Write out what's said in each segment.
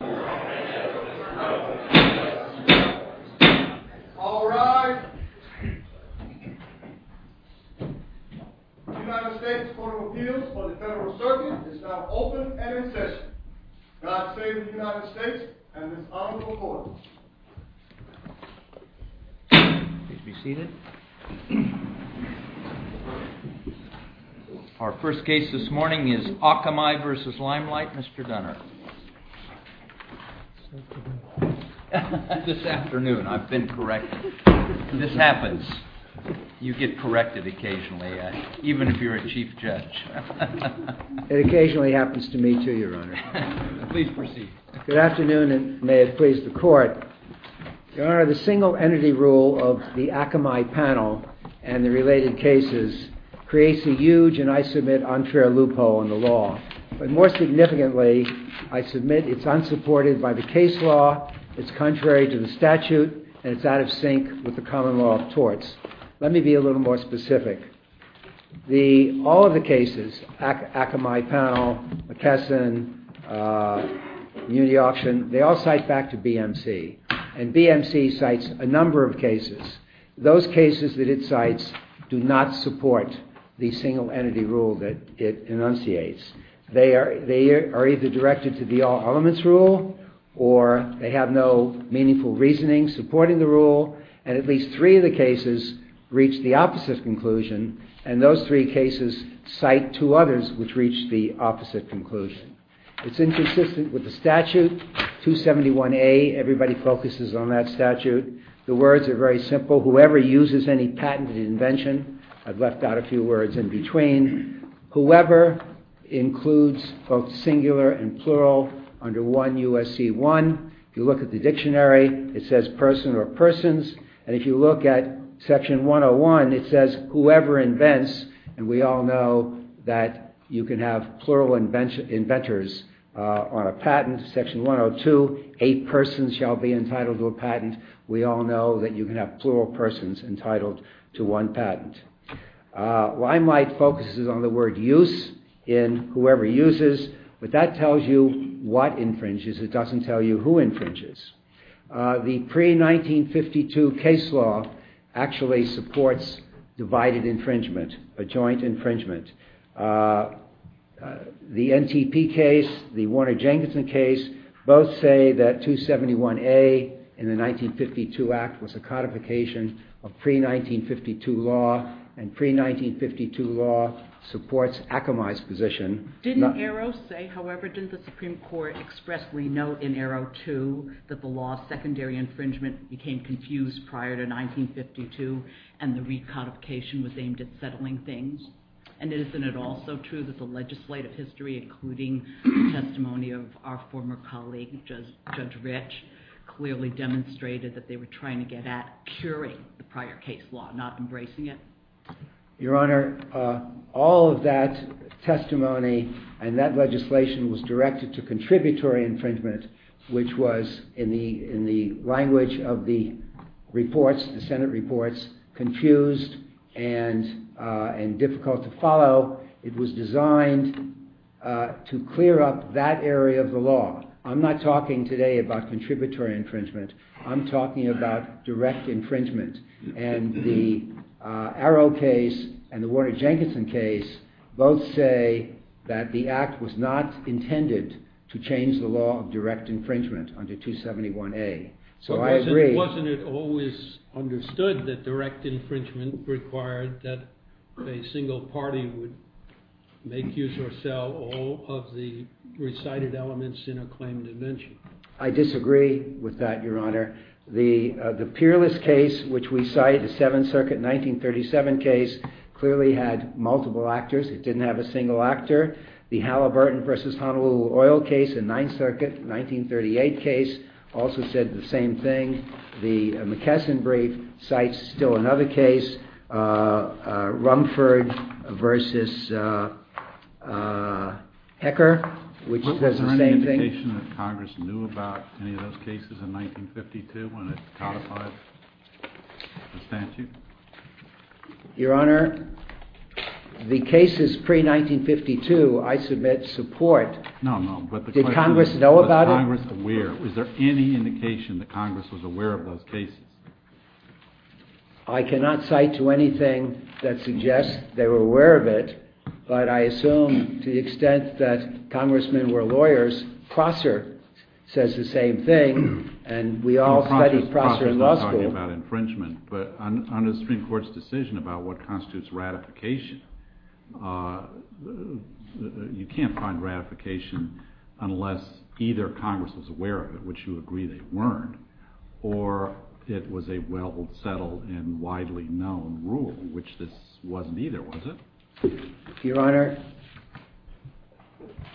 The United States Court of Appeals for the Federal Circuit is now open and in session. Glad to stay with the United States and its honorable court. Please be seated. Our first case this morning is Akamai v. Limelight. Mr. Gunner, this afternoon I've been corrected. This happens. You get corrected occasionally, even if you're a chief judge. It occasionally happens to me too, Your Honor. Good afternoon and may it please the court. Your Honor, the single entity rule of the Akamai panel and the related cases creates a huge and, I submit, unfair loophole in the law. But more significantly, I submit it's unsupported by the case law, it's contrary to the statute, and it's out of sync with the common law of torts. Let me be a little more specific. All of the cases, Akamai panel, McKesson, Muni option, they all cite back to BMC. And BMC cites a number of cases. Those cases that it cites do not support the single entity rule that it enunciates. They are either directed to the all elements rule or they have no meaningful reasoning supporting the rule. And at least three of the cases reach the opposite conclusion. And those three cases cite two others which reach the opposite conclusion. It's inconsistent with the statute, 271A. Everybody focuses on that statute. The words are very simple. Whoever uses any patented invention, I've left out a few words in between, whoever includes both singular and plural under 1 U.S.C. 1. If you look at the dictionary, it says person or persons. And if you look at section 101, it says whoever invents. And we all know that you can have plural inventors on a patent. Section 102, a person shall be entitled to a patent. We all know that you can have plural persons entitled to one patent. Weimark focuses on the word use in whoever uses. But that tells you what infringes. It doesn't tell you who infringes. The pre-1952 case law actually supports divided infringement, a joint infringement. The NTP case, the Warner-Jenkinson case, both say that 271A in the 1952 act was a codification of pre-1952 law. And pre-1952 law supports Akamai's position. Didn't Arrow say, however, didn't the Supreme Court expressly note in Arrow 2 that the law of secondary infringement became confused prior to 1952 and the recodification was aimed at settling things? And isn't it also true that the legislative history, including testimony of our former colleague Judge Rich, clearly demonstrated that they were trying to get at curing the prior case law, not embracing it? Your Honor, all of that testimony and that legislation was directed to contributory infringement, which was, in the language of the reports, the Senate reports, confused and difficult to follow. It was designed to clear up that area of the law. I'm not talking today about contributory infringement. I'm talking about direct infringement. And the Arrow case and the Warner-Jenkinson case both say that the act was not intended to change the law of direct infringement under 271A. So I agree. Wasn't it always understood that direct infringement required that a single party would make, use, or sell all of the recited elements in a claim to mention? I disagree with that, Your Honor. The Peerless case, which we cite, the Seventh Circuit 1937 case, clearly had multiple actors. It didn't have a single actor. The Halliburton v. Honolulu Oil case and Ninth Circuit 1938 case also said the same thing. The McKesson brief cites still another case, Rumford v. Hecker, which says the same thing. Is there any indication that Congress knew about any of those cases in 1952 when it codified the statute? Your Honor, the cases pre-1952 I submit support. No, no, but the question is, was Congress aware? Is there any indication that Congress was aware of those cases? I cannot cite to anything that suggests they were aware of it, but I assume to the extent that congressmen were lawyers. Prosser says the same thing, and we all studied Prosser in law school. I'm not talking about infringement, but under the Supreme Court's decision about what constitutes ratification, you can't find ratification unless either Congress was aware of it, which you agree they weren't, or it was a well-settled and widely known rule, which this wasn't either, was it? Your Honor,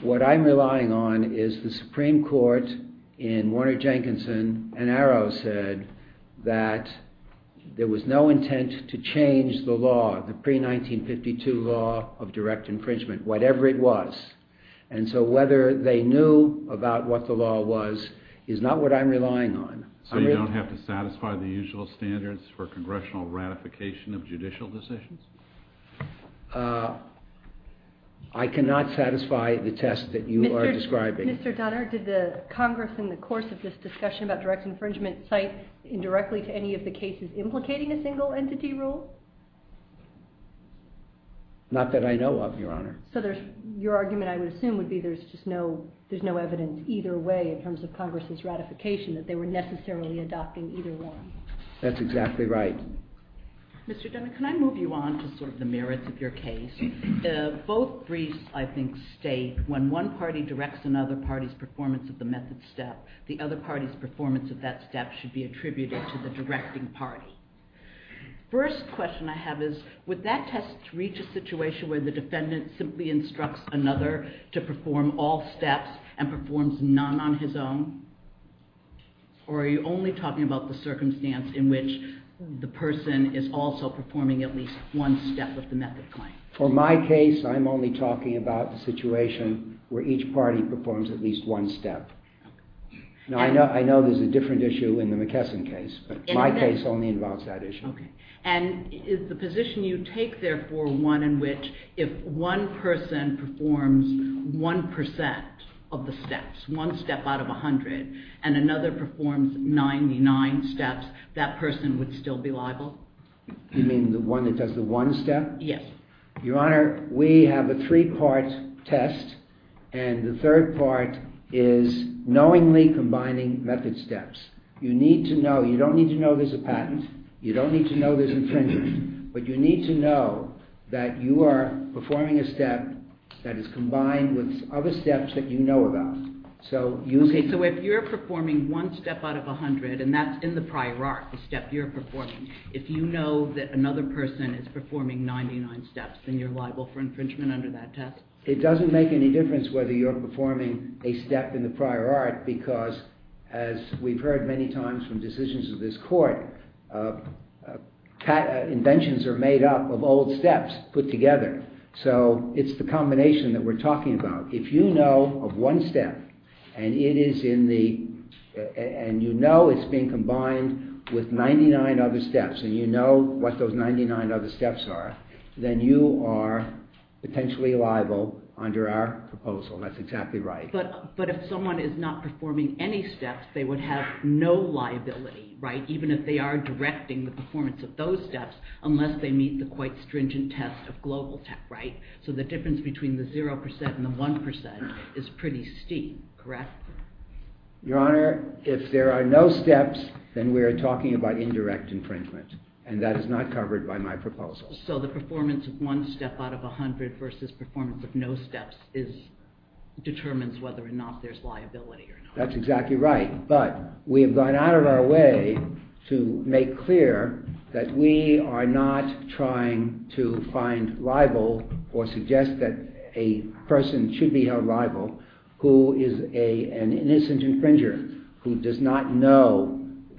what I'm relying on is the Supreme Court in Warner-Jenkinson and Arrow said that there was no intent to change the law. The pre-1952 law of direct infringement, whatever it was. And so whether they knew about what the law was is not what I'm relying on. So you don't have to satisfy the usual standards for congressional ratification of judicial decisions? I cannot satisfy the test that you are describing. Mr. Dunner, did the Congress in the course of this discussion about direct infringement cite indirectly to any of the cases implicating a single entity rule? Not that I know of, Your Honor. So your argument, I would assume, would be there's no evidence either way in terms of Congress's ratification that they were necessarily adopting either one. That's exactly right. Mr. Dunner, can I move you on to sort of the merits of your case? Both briefs, I think, state when one party directs another party's performance of the method step, the other party's performance of that step should be attributed to the directing party. First question I have is, would that test reach a situation where the defendant simply instructs another to perform all steps and performs none on his own? Or are you only talking about the circumstance in which the person is also performing at least one step with the method claim? For my case, I'm only talking about a situation where each party performs at least one step. Now, I know there's a different issue in the McKesson case, but my case only involves that issue. And is the position you take, therefore, one in which if one person performs 1% of the steps, one step out of 100, and another performs 99 steps, that person would still be liable? You mean the one that does the one step? Yes. Your Honor, we have a three-part test, and the third part is knowingly combining method steps. You don't need to know there's a patent. You don't need to know there's infringement. But you need to know that you are performing a step that is combined with other steps that you know about. So if you're performing one step out of 100, and that's in the prior art, the step you're performing, if you know that another person is performing 99 steps, then you're liable for infringement under that test? It doesn't make any difference whether you're performing a step in the prior art, because as we've heard many times from decisions of this Court, inventions are made up of old steps put together. So it's the combination that we're talking about. If you know of one step, and you know it's being combined with 99 other steps, and you know what those 99 other steps are, then you are potentially liable under our proposal. That's exactly right. But if someone is not performing any steps, they would have no liability, right, even if they are directing the performance of those steps, unless they meet the quite stringent test of global tech, right? So the difference between the 0% and the 1% is pretty steep, correct? Your Honor, if there are no steps, then we are talking about indirect infringement, and that is not covered by my proposal. So the performance of one step out of 100 versus performance of no steps determines whether or not there's liability or not? That's exactly right. But we have gone out of our way to make clear that we are not trying to find liable or suggest that a person should be a liable who is an innocent infringer, who does not know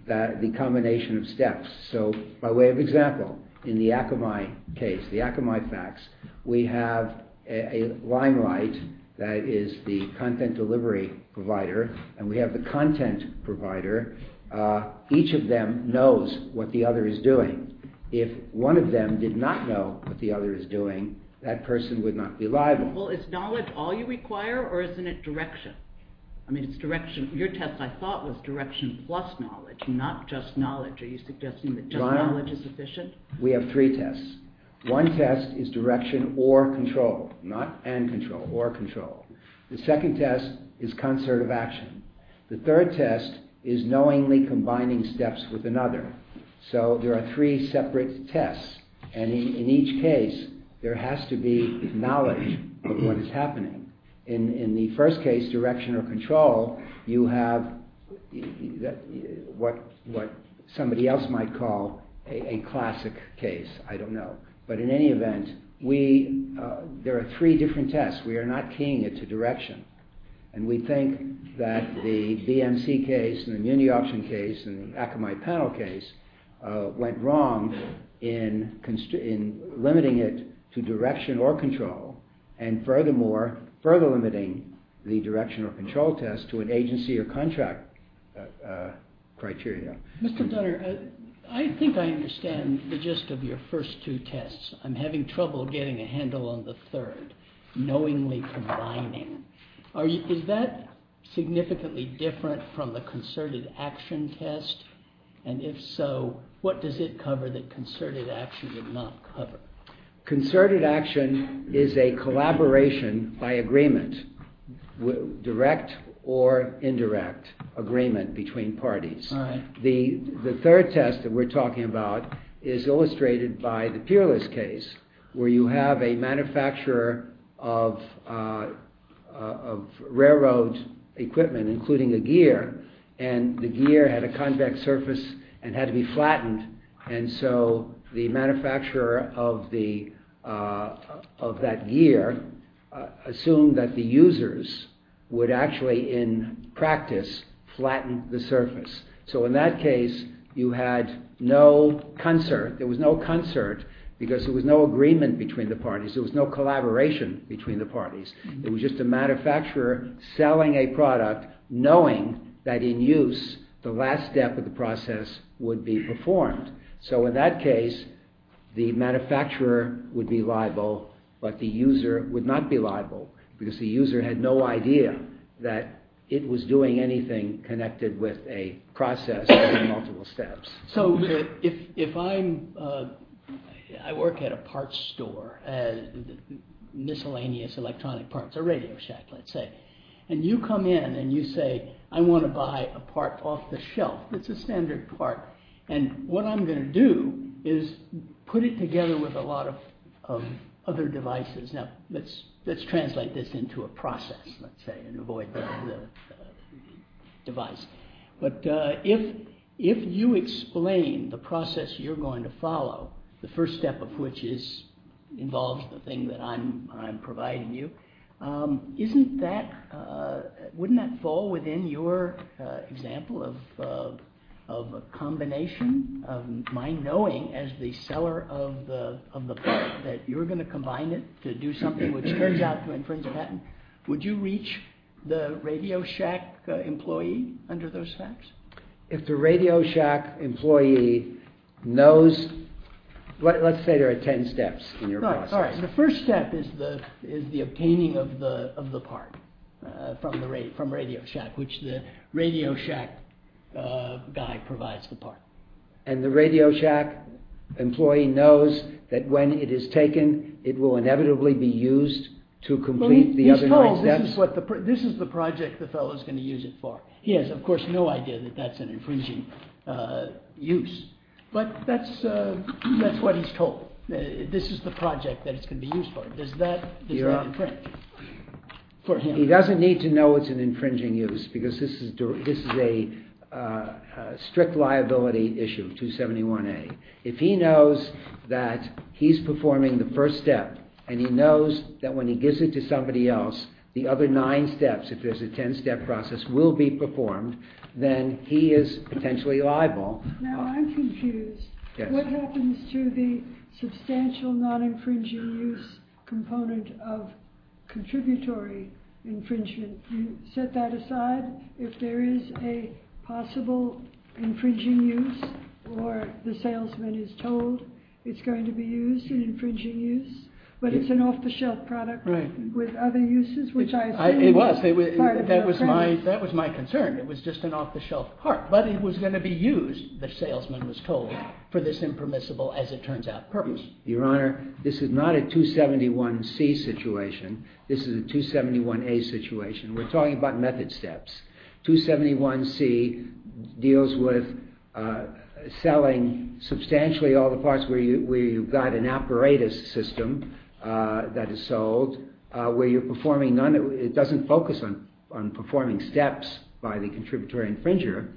the combination of steps. So by way of example, in the Akamai case, the Akamai facts, we have a limelight that is the content delivery provider, and we have the content provider. Each of them knows what the other is doing. If one of them did not know what the other is doing, that person would not be liable. For example, is knowledge all you require, or is it direction? I mean, it's direction. Your test, I thought, was direction plus knowledge, not just knowledge. Are you suggesting that just knowledge is sufficient? Your Honor, we have three tests. One test is direction or control, not and control, or control. The second test is concert of action. The third test is knowingly combining steps with another. So there are three separate tests, and in each case there has to be knowledge of what is happening. In the first case, direction or control, you have what somebody else might call a classic case. I don't know. But in any event, there are three different tests. We are not keying it to direction, and we think that the BMC case and the Munioption case and the Akamai panel case went wrong in limiting it to direction or control, and furthermore, further limiting the direction or control test to an agency or contract criteria. Mr. Dunner, I think I understand the gist of your first two tests. I'm having trouble getting a handle on the third, knowingly combining. Is that significantly different from the concerted action test? And if so, what does it cover that concerted action did not cover? Concerted action is a collaboration by agreement, direct or indirect agreement between parties. The third test that we're talking about is illustrated by the Peerless case, where you have a manufacturer of railroad equipment, including a gear, and the gear had a convex surface and had to be flattened, and so the manufacturer of that gear assumed that the users would actually, in practice, flatten the surface. So, in that case, you had no concert. There was no concert because there was no agreement between the parties. There was no collaboration between the parties. It was just a manufacturer selling a product, knowing that in use, the last step of the process would be performed. So, in that case, the manufacturer would be liable, but the user would not be liable because the user had no idea that it was doing anything connected with a process or multiple steps. So, if I work at a parts store, miscellaneous electronic parts, a radio set, let's say, and you come in and you say, I want to buy a part off the shelf. It's a standard part, and what I'm going to do is put it together with a lot of other devices. Now, let's translate this into a process and avoid the device, but if you explain the process you're going to follow, the first step of which involves the thing that I'm providing you, wouldn't that fall within your example of a combination of mine knowing, as the seller of the part, that you're going to combine it to do something which turns out to infringe a patent? Would you reach the Radio Shack employee under those steps? If the Radio Shack employee knows – let's say there are ten steps in your process. The first step is the obtaining of the part from Radio Shack, which the Radio Shack guy provides the part. And the Radio Shack employee knows that when it is taken, it will inevitably be used to complete the other nine steps? This is the project the fellow is going to use it for. He has, of course, no idea that that's an infringing use. But that's what he's told. This is the project that it's going to be used for. Does that infringe? He doesn't need to know it's an infringing use because this is a strict liability issue, 271A. If he knows that he's performing the first step and he knows that when he gives it to somebody else the other nine steps, if there's a ten-step process, will be performed, then he is potentially liable. Now, I'm confused. What happens to the substantial non-infringing use component of contributory infringement? You set that aside? If there is a possible infringing use or the salesman is told it's going to be used in infringing use, but it's an off-the-shelf product with other uses, which I assume – It was. That was my concern. It was just an off-the-shelf part. But it was going to be used, the salesman was told, for this impermissible, as it turns out, purpose. Your Honor, this is not a 271C situation. This is a 271A situation. We're talking about method steps. 271C deals with selling substantially all the parts where you've got an apparatus system that is sold, where you're performing – it doesn't focus on performing steps by the contributory infringer.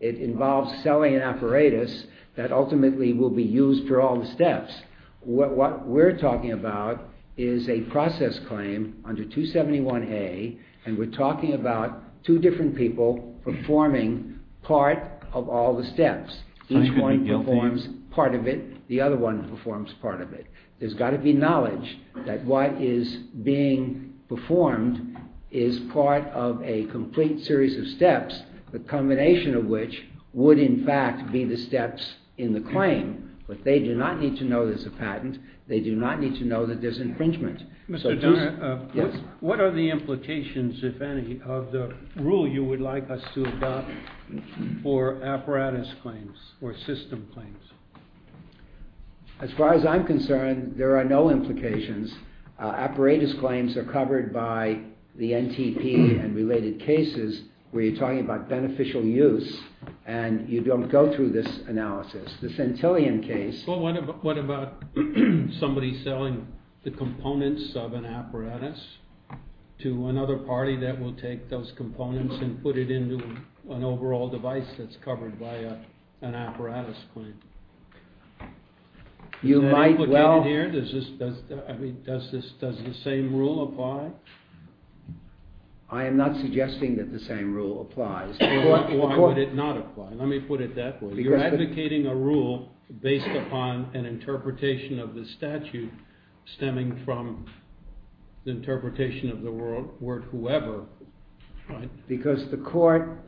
It involves selling an apparatus that ultimately will be used for all the steps. What we're talking about is a process claim under 271A, and we're talking about two different people performing part of all the steps. Each one performs part of it. The other one performs part of it. There's got to be knowledge that what is being performed is part of a complete series of steps, the combination of which would in fact be the steps in the claim. But they do not need to know there's a patent. They do not need to know that there's infringement. Mr. Dunner, what are the implications, if any, of the rule you would like us to adopt for apparatus claims or system claims? As far as I'm concerned, there are no implications. Apparatus claims are covered by the NTP and related cases where you're talking about beneficial use, and you don't go through this analysis. What about somebody selling the components of an apparatus to another party that will take those components and put it into an overall device that's covered by an apparatus claim? Does the same rule apply? I am not suggesting that the same rule applies. Why would it not apply? Let me put it that way. You're advocating a rule based upon an interpretation of the statute stemming from the interpretation of the word whoever. Because the court,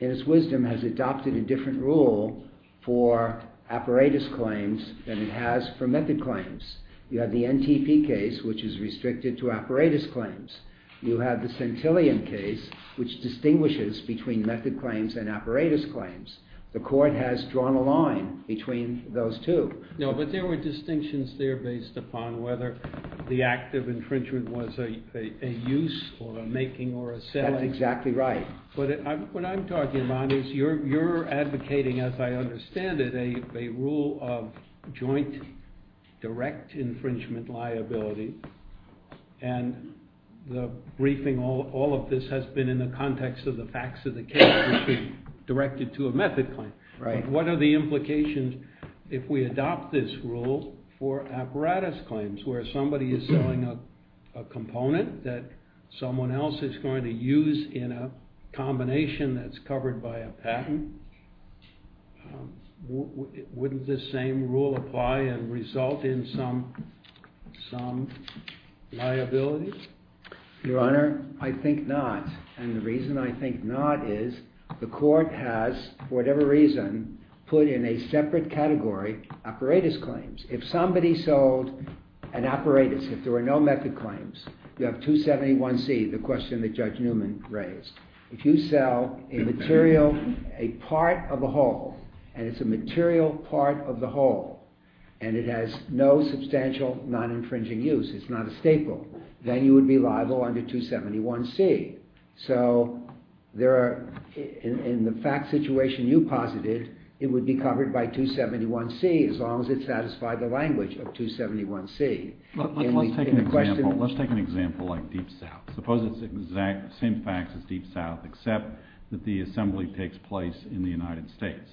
in its wisdom, has adopted a different rule for apparatus claims than it has for method claims. You have the NTP case, which is restricted to apparatus claims. You have the centillion case, which distinguishes between method claims and apparatus claims. The court has drawn a line between those two. No, but there were distinctions there based upon whether the act of infringement was a use or a making or a setting. That's exactly right. What I'm talking about is you're advocating, as I understand it, a rule of joint direct infringement liability. And the briefing, all of this has been in the context of the facts of the case, which is directed to a method claim. What are the implications if we adopt this rule for apparatus claims, where somebody is selling a component that someone else is going to use in a combination that's covered by a patent? Wouldn't the same rule apply and result in some liability? Your Honor, I think not. And the reason I think not is the court has, for whatever reason, put in a separate category apparatus claims. If somebody sold an apparatus, if there were no method claims, you have 271C, the question that Judge Newman raised. If you sell a material, a part of a whole, and it's a material part of the whole, and it has no substantial non-infringing use, it's not a staple, then you would be liable under 271C. So, in the fact situation you posited, it would be covered by 271C as long as it satisfied the language of 271C. Let's take an example like Deep South. Suppose it's the exact same facts as Deep South, except that the assembly takes place in the United States.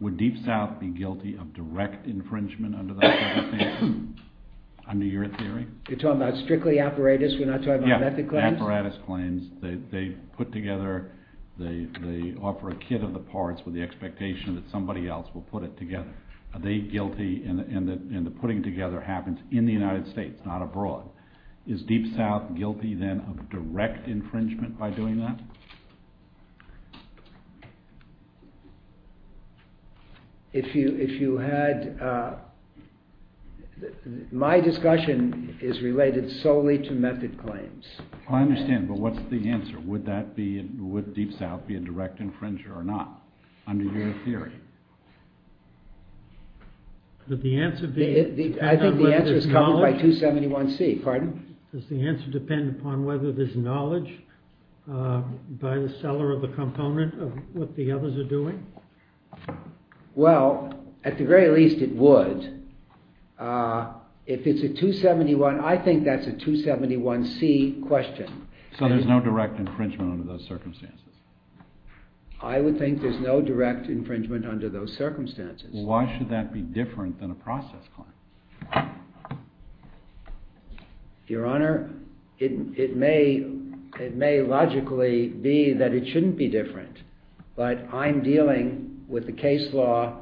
Would Deep South be guilty of direct infringement under those circumstances, under your theory? You're talking about strictly apparatus, we're not talking about method claims? Yeah, apparatus claims. They put together, they offer a kit of the parts with the expectation that somebody else will put it together. Are they guilty, and the putting together happens in the United States, not abroad. So, is Deep South guilty then of direct infringement by doing that? My discussion is related solely to method claims. I understand, but what's the answer? Would Deep South be a direct infringer or not, under your theory? I think the answer is covered by 271C, pardon? Does the answer depend upon whether there's knowledge by the seller of the component of what the others are doing? Well, at the very least it would. If it's a 271, I think that's a 271C question. So, there's no direct infringement under those circumstances? I would think there's no direct infringement under those circumstances. Why should that be different than a process claim? Your Honor, it may logically be that it shouldn't be different, but I'm dealing with the case law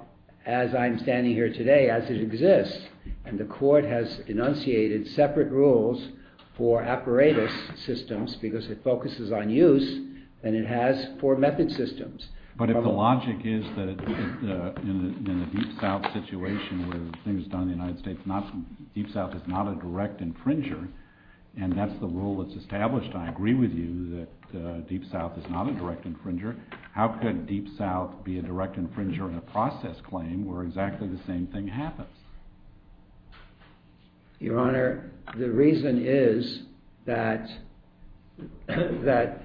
as I'm standing here today, as it exists. And the court has enunciated separate rules for apparatus systems, because it focuses on use, and it has four method systems. But if the logic is that in the Deep South situation where the thing is done in the United States, Deep South is not a direct infringer, and that's the rule that's established, and I agree with you that Deep South is not a direct infringer, how could Deep South be a direct infringer in a process claim where exactly the same thing happens? Your Honor, the reason is that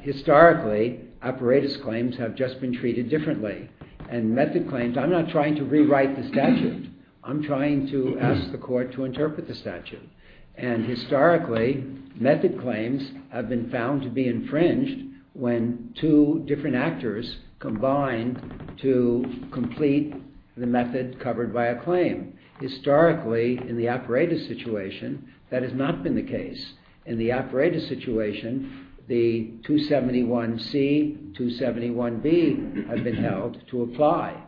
historically apparatus claims have just been treated differently. And method claims, I'm not trying to rewrite the statute. I'm trying to ask the court to interpret the statute. And historically, method claims have been found to be infringed when two different actors combine to complete the method covered by a claim. Historically, in the apparatus situation, that has not been the case. In the apparatus situation, the 271C, 271B have been held to apply.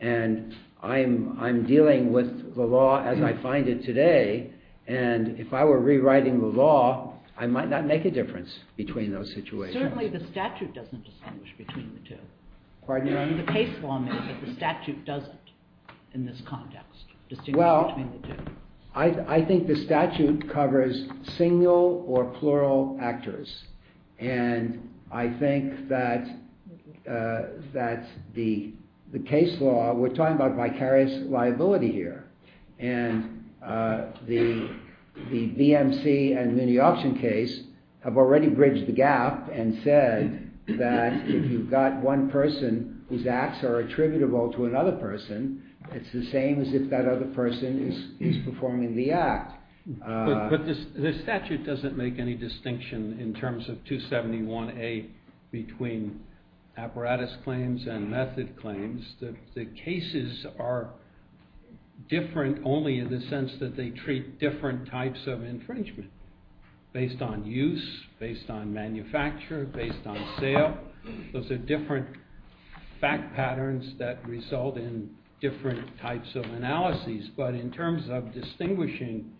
And I'm dealing with the law as I find it today. And if I were rewriting the law, I might not make a difference between those situations. Certainly the statute doesn't distinguish between the two. Pardon me? I mean, the case form is that the statute doesn't, in this context, distinguish between the two. Well, I think the statute covers single or plural actors. And I think that the case law, we're talking about vicarious liability here. And the DMC and the option case have already bridged the gap and said that if you've got one person whose acts are attributable to another person, it's the same as if that other person is performing the act. But the statute doesn't make any distinction in terms of 271A between apparatus claims and method claims. The cases are different only in the sense that they treat different types of infringement based on use, based on manufacture, based on sale. Those are different fact patterns that result in different types of analyses. But in terms of distinguishing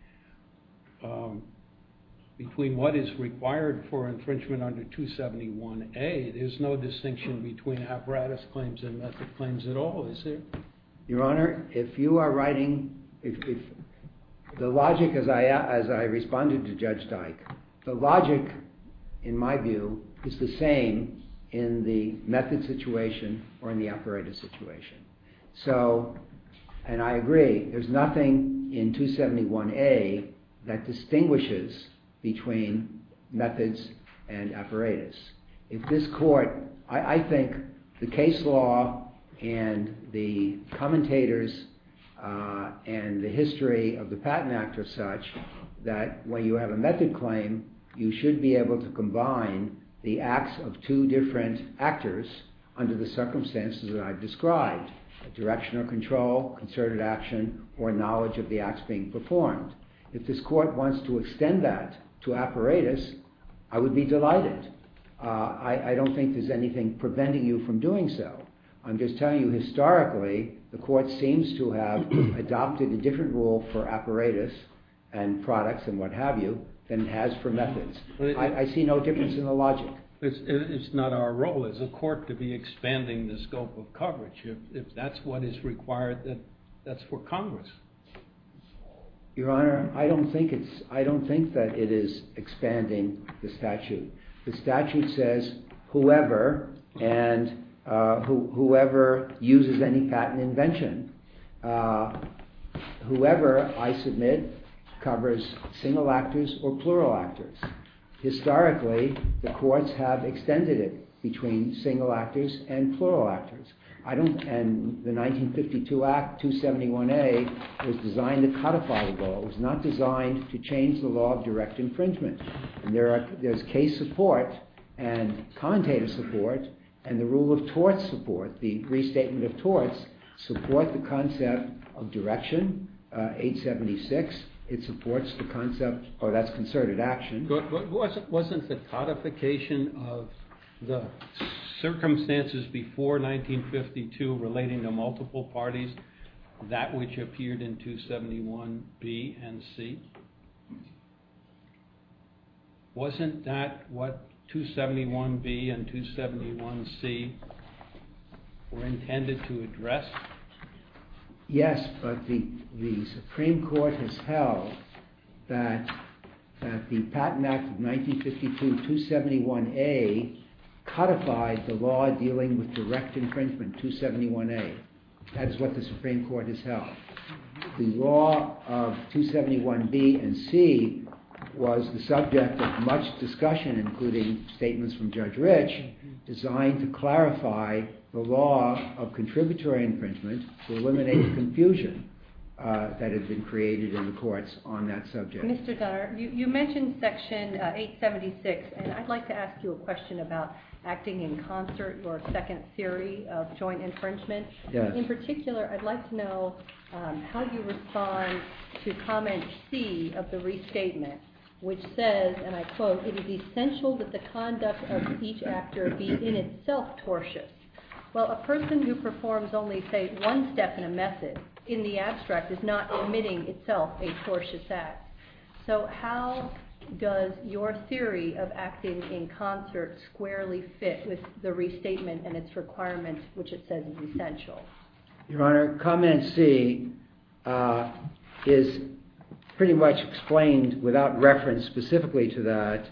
between what is required for infringement under 271A, there's no distinction between apparatus claims and method claims at all, is there? Your Honor, if you are writing, the logic as I responded to Judge Dyke, the logic, in my view, is the same in the method situation or in the apparatus situation. So, and I agree, there's nothing in 271A that distinguishes between methods and apparatus. If this Court, I think the case law and the commentators and the history of the Patent Act are such that when you have a method claim, you should be able to combine the acts of two different actors under the circumstances that I've described. A directional control, concerted action, or knowledge of the acts being performed. If this Court wants to extend that to apparatus, I would be delighted. I don't think there's anything preventing you from doing so. I'm just telling you historically, the Court seems to have adopted a different rule for apparatus and products and what have you than it has for methods. I see no difference in the logic. It's not our role as a Court to be expanding the scope of coverage. If that's what is required, then that's for Congress. Your Honor, I don't think that it is expanding the statute. The statute says, whoever, and whoever uses any patent invention, whoever, I submit, covers single actors or plural actors. Historically, the Courts have extended it between single actors and plural actors. The 1952 Act, 271A, was designed to codify the law. It was not designed to change the law of direct infringement. There's case support and commentator support, and the rule of torts support, the restatement of torts, support the concept of direction, 876. It supports the concept of concerted action. But wasn't the codification of the circumstances before 1952 relating to multiple parties that which appeared in 271B and 271C? Wasn't that what 271B and 271C were intended to address? Yes, but the Supreme Court has held that the Patent Act of 1952, 271A, codified the law dealing with direct infringement, 271A. That is what the Supreme Court has held. The law of 271B and 271C was the subject of much discussion, including statements from Judge Rich, designed to clarify the law of contributory infringement to eliminate confusion that had been created in the Courts on that subject. Mr. Donner, you mentioned Section 876, and I'd like to ask you a question about acting in concert, your second theory of joint infringement. In particular, I'd like to know how you respond to comment C of the restatement, which says, and I quote, It is essential that the conduct of each actor be in itself tortious. Well, a person who performs only, say, one step in a method in the abstract is not committing itself a tortious act. So how does your theory of acting in concert squarely fit with the restatement and its requirements, which it says is essential? Your Honor, comment C is pretty much explained without reference specifically to that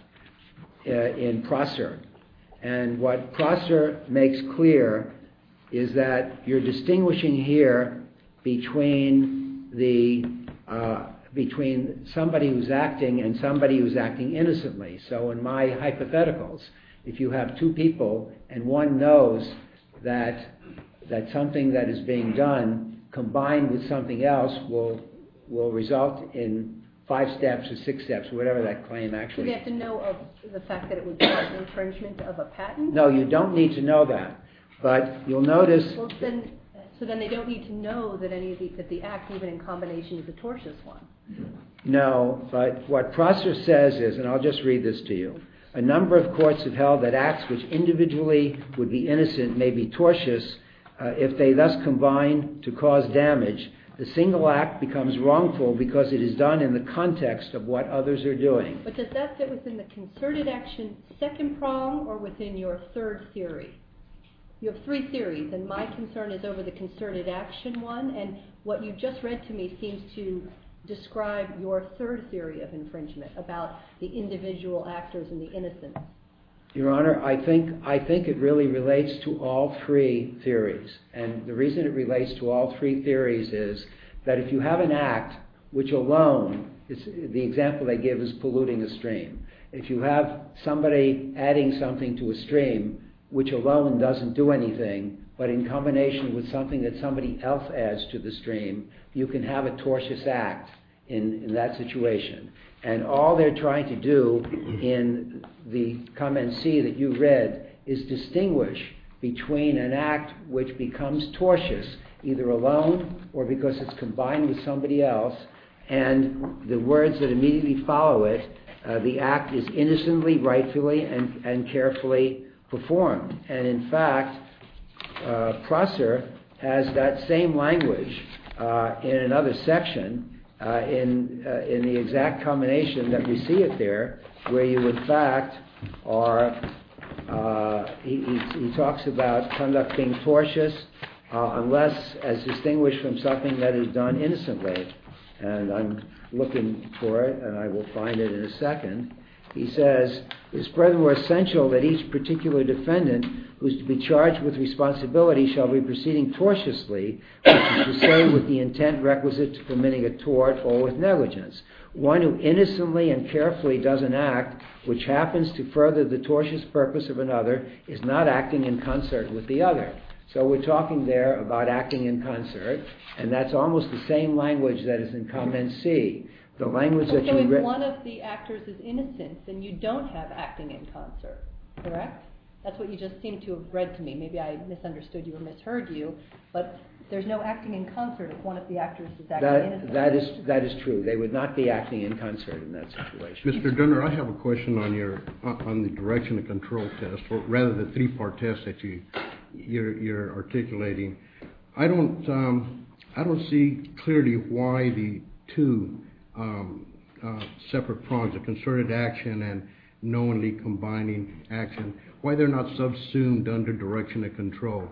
in Prosser. And what Prosser makes clear is that you're distinguishing here between somebody who's acting and somebody who's acting innocently. So in my hypotheticals, if you have two people and one knows that something that is being done, combined with something else, will result in five steps or six steps, whatever that claim actually is. So you have to know of the fact that it would be an infringement of a patent? No, you don't need to know that. But you'll notice... So then they don't need to know that the act, even in combination, is a tortious one. No, but what Prosser says is, and I'll just read this to you, A number of courts have held that acts which individually would be innocent may be tortious if they thus combine to cause damage. The single act becomes wrongful because it is done in the context of what others are doing. But does that sit within the concerted action second prong or within your third theory? Your three theories, and my concern is over the concerted action one, and what you just read to me seems to describe your third theory of infringement, about the individual actors and the innocent. Your Honor, I think it really relates to all three theories. And the reason it relates to all three theories is that if you have an act which alone, the example I give is polluting a stream. If you have somebody adding something to a stream, which alone doesn't do anything, but in combination with something that somebody else adds to the stream, you can have a tortious act in that situation. And all they're trying to do in the comment C that you read is distinguish between an act which becomes tortious, either alone or because it's combined with somebody else, and the words that immediately follow it, the act is innocently, rightfully, and carefully performed. And in fact, Prosser has that same language in another section in the exact combination that we see it there, where you in fact are, he talks about conducting tortious unless as distinguished from something that is done innocently. And I'm looking for it, and I will find it in a second. He says, it's furthermore essential that each particular defendant who is to be charged with responsibility shall be proceeding tortiously, which is to say with the intent requisite to committing a tort or with negligence. One who innocently and carefully does an act which happens to further the tortious purpose of another is not acting in concert with the other. So we're talking there about acting in concert, and that's almost the same language that is in comment C. If one of the actors is innocent, then you don't have acting in concert, correct? That's what you just seem to have read to me. Maybe I misunderstood you or misheard you, but there's no acting in concert if one of the actors is acting innocently. That is true. They would not be acting in concert in that situation. Mr. Gunner, I have a question on the direction of control test, or rather the three-part test that you're articulating. I don't see clearly why the two separate prongs of concerted action and knowingly combining action, why they're not subsumed under direction of control.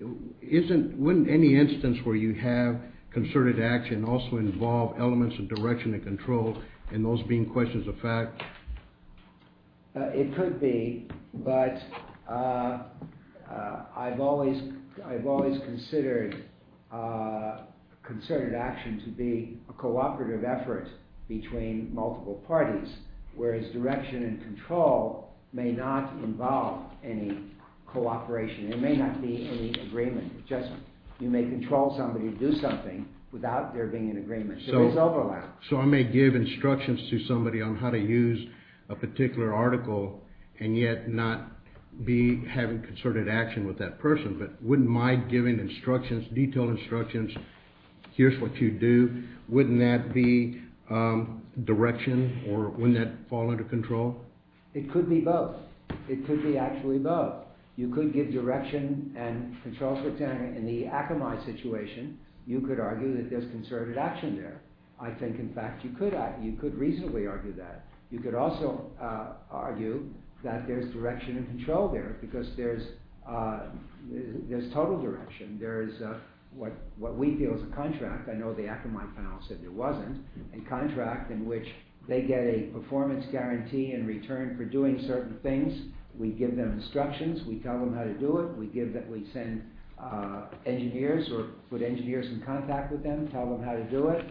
Wouldn't any instance where you have concerted action also involve elements of direction of control, and those being questions of fact? It could be, but I've always considered concerted action to be cooperative efforts between multiple parties, whereas direction and control may not involve any cooperation. There may not be any agreement. You may control somebody to do something without there being an agreement, so there's overlap. So I may give instructions to somebody on how to use a particular article and yet not be having concerted action with that person, but wouldn't my giving instructions, detailed instructions, here's what you do, wouldn't that be direction, or wouldn't that fall under control? It could be both. It could be actually both. You could give direction and control to a candidate in the Akamai situation. You could argue that there's concerted action there. I think, in fact, you could reasonably argue that. You could also argue that there's direction and control there, because there's total direction. There is what we feel is a contract, I know the Akamai panel said there wasn't, a contract in which they get a performance guarantee in return for doing certain things. We give them instructions. We tell them how to do it. We give that we send engineers or put engineers in contact with them, tell them how to do it,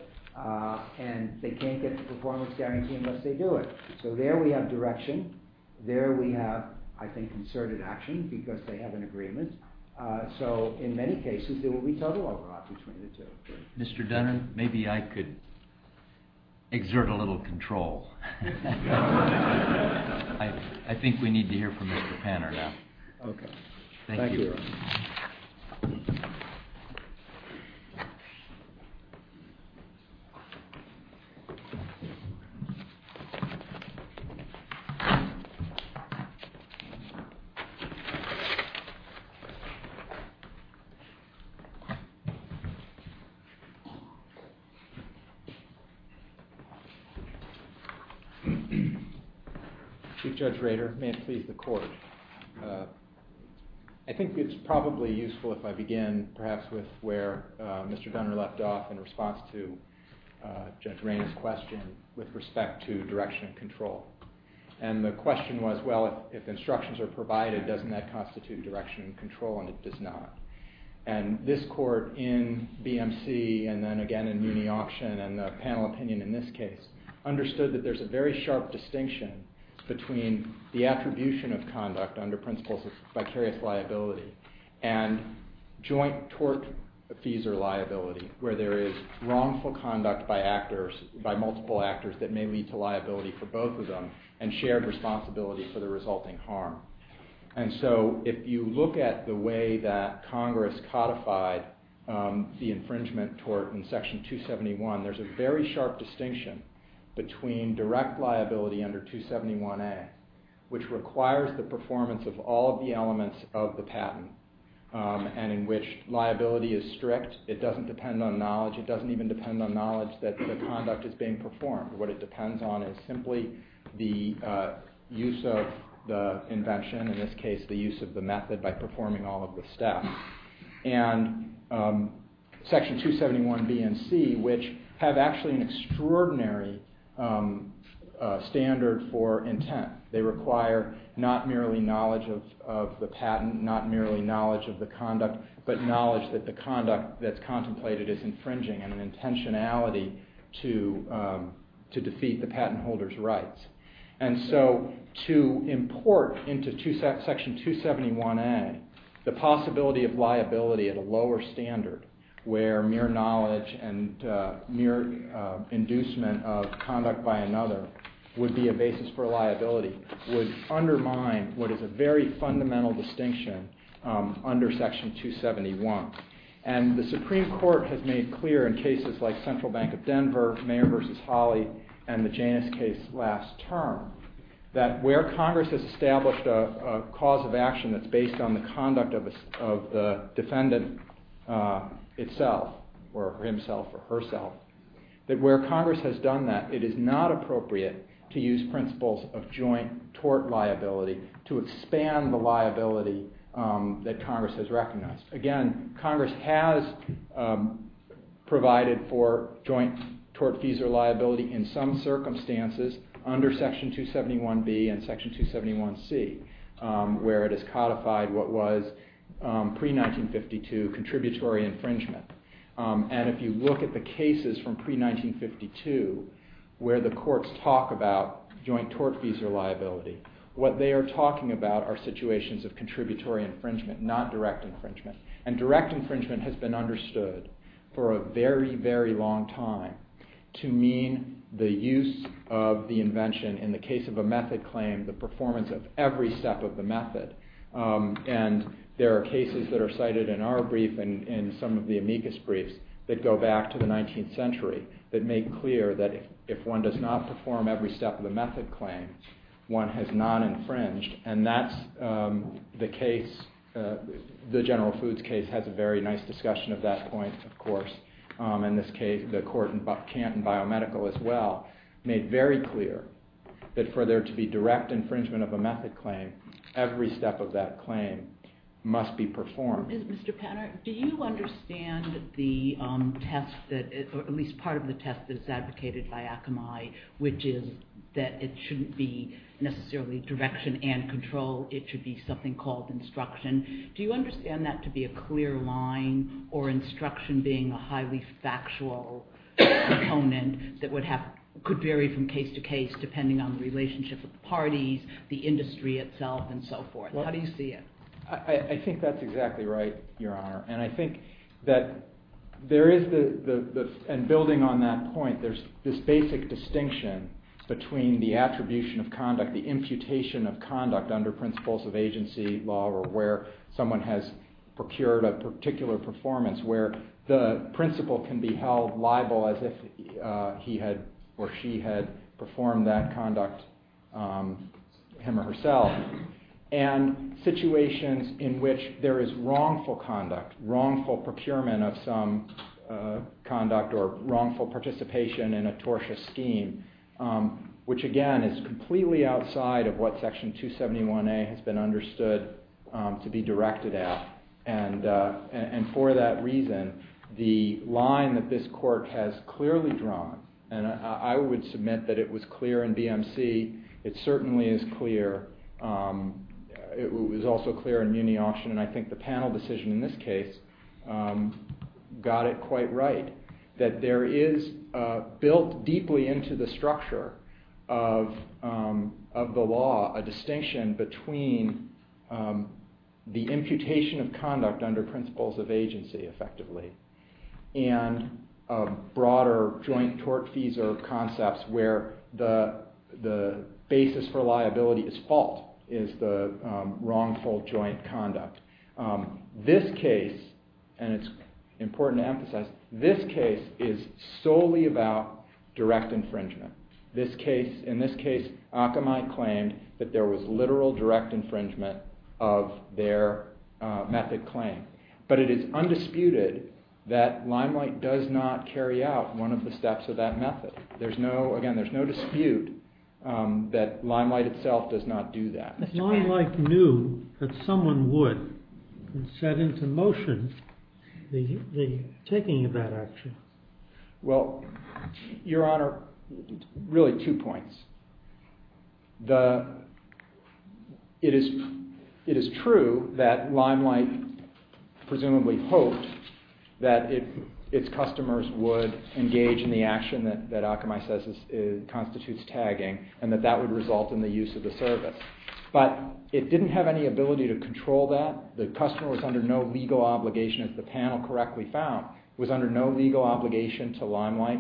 and they can't get the performance guarantee unless they do it. So there we have direction. There we have, I think, concerted action, because they have an agreement. So, in many cases, there will be total overlap between the two. Mr. Dunman, maybe I could exert a little control. I think we need to hear from Mr. Panner now. Okay. Thank you. Thank you. Chief Judge Rader, may it please the Court. I think it's probably useful if I begin, perhaps, with where Mr. Dunner left off in response to Judge Rainer's question with respect to direction and control. And the question was, well, if instructions are provided, doesn't that constitute direction and control, and it does not. And this Court, in BMC and then again in Muni Option and the panel opinion in this case, understood that there's a very sharp distinction between the attribution of conduct under principles of vicarious liability and joint tort fees or liability, where there is wrongful conduct by multiple actors that may lead to liability for both of them and shared responsibilities that are resulting harm. And so, if you look at the way that Congress codified the infringement tort in Section 271, there's a very sharp distinction between direct liability under 271A, which requires the performance of all of the elements of the patent and in which liability is strict. It doesn't depend on knowledge. It doesn't even depend on knowledge that the conduct is being performed. What it depends on is simply the use of the invention, in this case, the use of the method by performing all of the steps. And Section 271B and C, which have actually an extraordinary standard for intent, they require not merely knowledge of the patent, not merely knowledge of the conduct, but knowledge that the conduct that's contemplated is infringing and an intentionality to defeat the patent holder's rights. And so, to import into Section 271A the possibility of liability at a lower standard, where mere knowledge and mere inducement of conduct by another would be a basis for liability, would undermine what is a very fundamental distinction under Section 271. And the Supreme Court has made clear in cases like Central Bank of Denver, Mayer v. Hawley, and the Janus case last term, that where Congress has established a cause of action that's based on the conduct of the defendant itself, or himself or herself, that where Congress has done that, it is not appropriate to use principles of joint tort liability to expand the liability that Congress has recognized. Again, Congress has provided for joint tort fees or liability in some circumstances under Section 271B and Section 271C, where it is codified what was pre-1952 contributory infringement. And if you look at the cases from pre-1952, where the courts talk about joint tort fees or liability, what they are talking about are situations of contributory infringement, not direct infringement. And direct infringement has been understood for a very, very long time to mean the use of the invention, in the case of a method claim, the performance of every step of the method. And there are cases that are cited in our brief and in some of the amicus briefs that go back to the 19th century that make clear that if one does not perform every step of the method claim, one has non-infringed. And that's the case, the General Foods case has a very nice discussion of that point, of course. In this case, the court in Canton Biomedical, as well, made very clear that for there to be direct infringement of a method claim, every step of that claim must be performed. Mr. Penner, do you understand the test, or at least part of the test that is advocated by Akamai, which is that it shouldn't be necessarily direction and control, it should be something called instruction. Do you understand that to be a clear line, or instruction being a highly factual component that could vary from case to case, depending on the relationship of the parties, the industry itself, and so forth? How do you see it? I think that's exactly right, Your Honor. And I think that there is, and building on that point, there's this basic distinction between the attribution of conduct, the imputation of conduct under principles of agency law, or where someone has procured a particular performance, where the principle can be held liable as if he had, or she had, performed that conduct, him or herself. And situations in which there is wrongful conduct, wrongful procurement of some conduct, or wrongful participation in a tortious scheme, which again is completely outside of what Section 271A has been understood to be directed at. And for that reason, the line that this Court has clearly drawn, and I would submit that it was clear in BMC, it certainly is clear, it was also clear in Muni-Austin, and I think the panel decision in this case got it quite right, that there is, built deeply into the structure of the law, a distinction between the imputation of conduct under principles of agency, effectively, and broader joint tort-feasor concepts where the basis for liability is fault, is the wrongful joint conduct. This case, and it's important to emphasize, this case is solely about direct infringement. In this case, Akamai claimed that there was literal direct infringement of their method claim. But it is undisputed that Limelight does not carry out one of the steps of that method. There's no, again, there's no dispute that Limelight itself does not do that. But Limelight knew that someone would set into motion the taking of that action. Well, Your Honor, really two points. It is true that Limelight presumably hoped that its customers would engage in the action that Akamai says constitutes tagging, and that that would result in the use of the service. But it didn't have any ability to control that. The customer was under no legal obligation, if the panel correctly found, was under no legal obligation to Limelight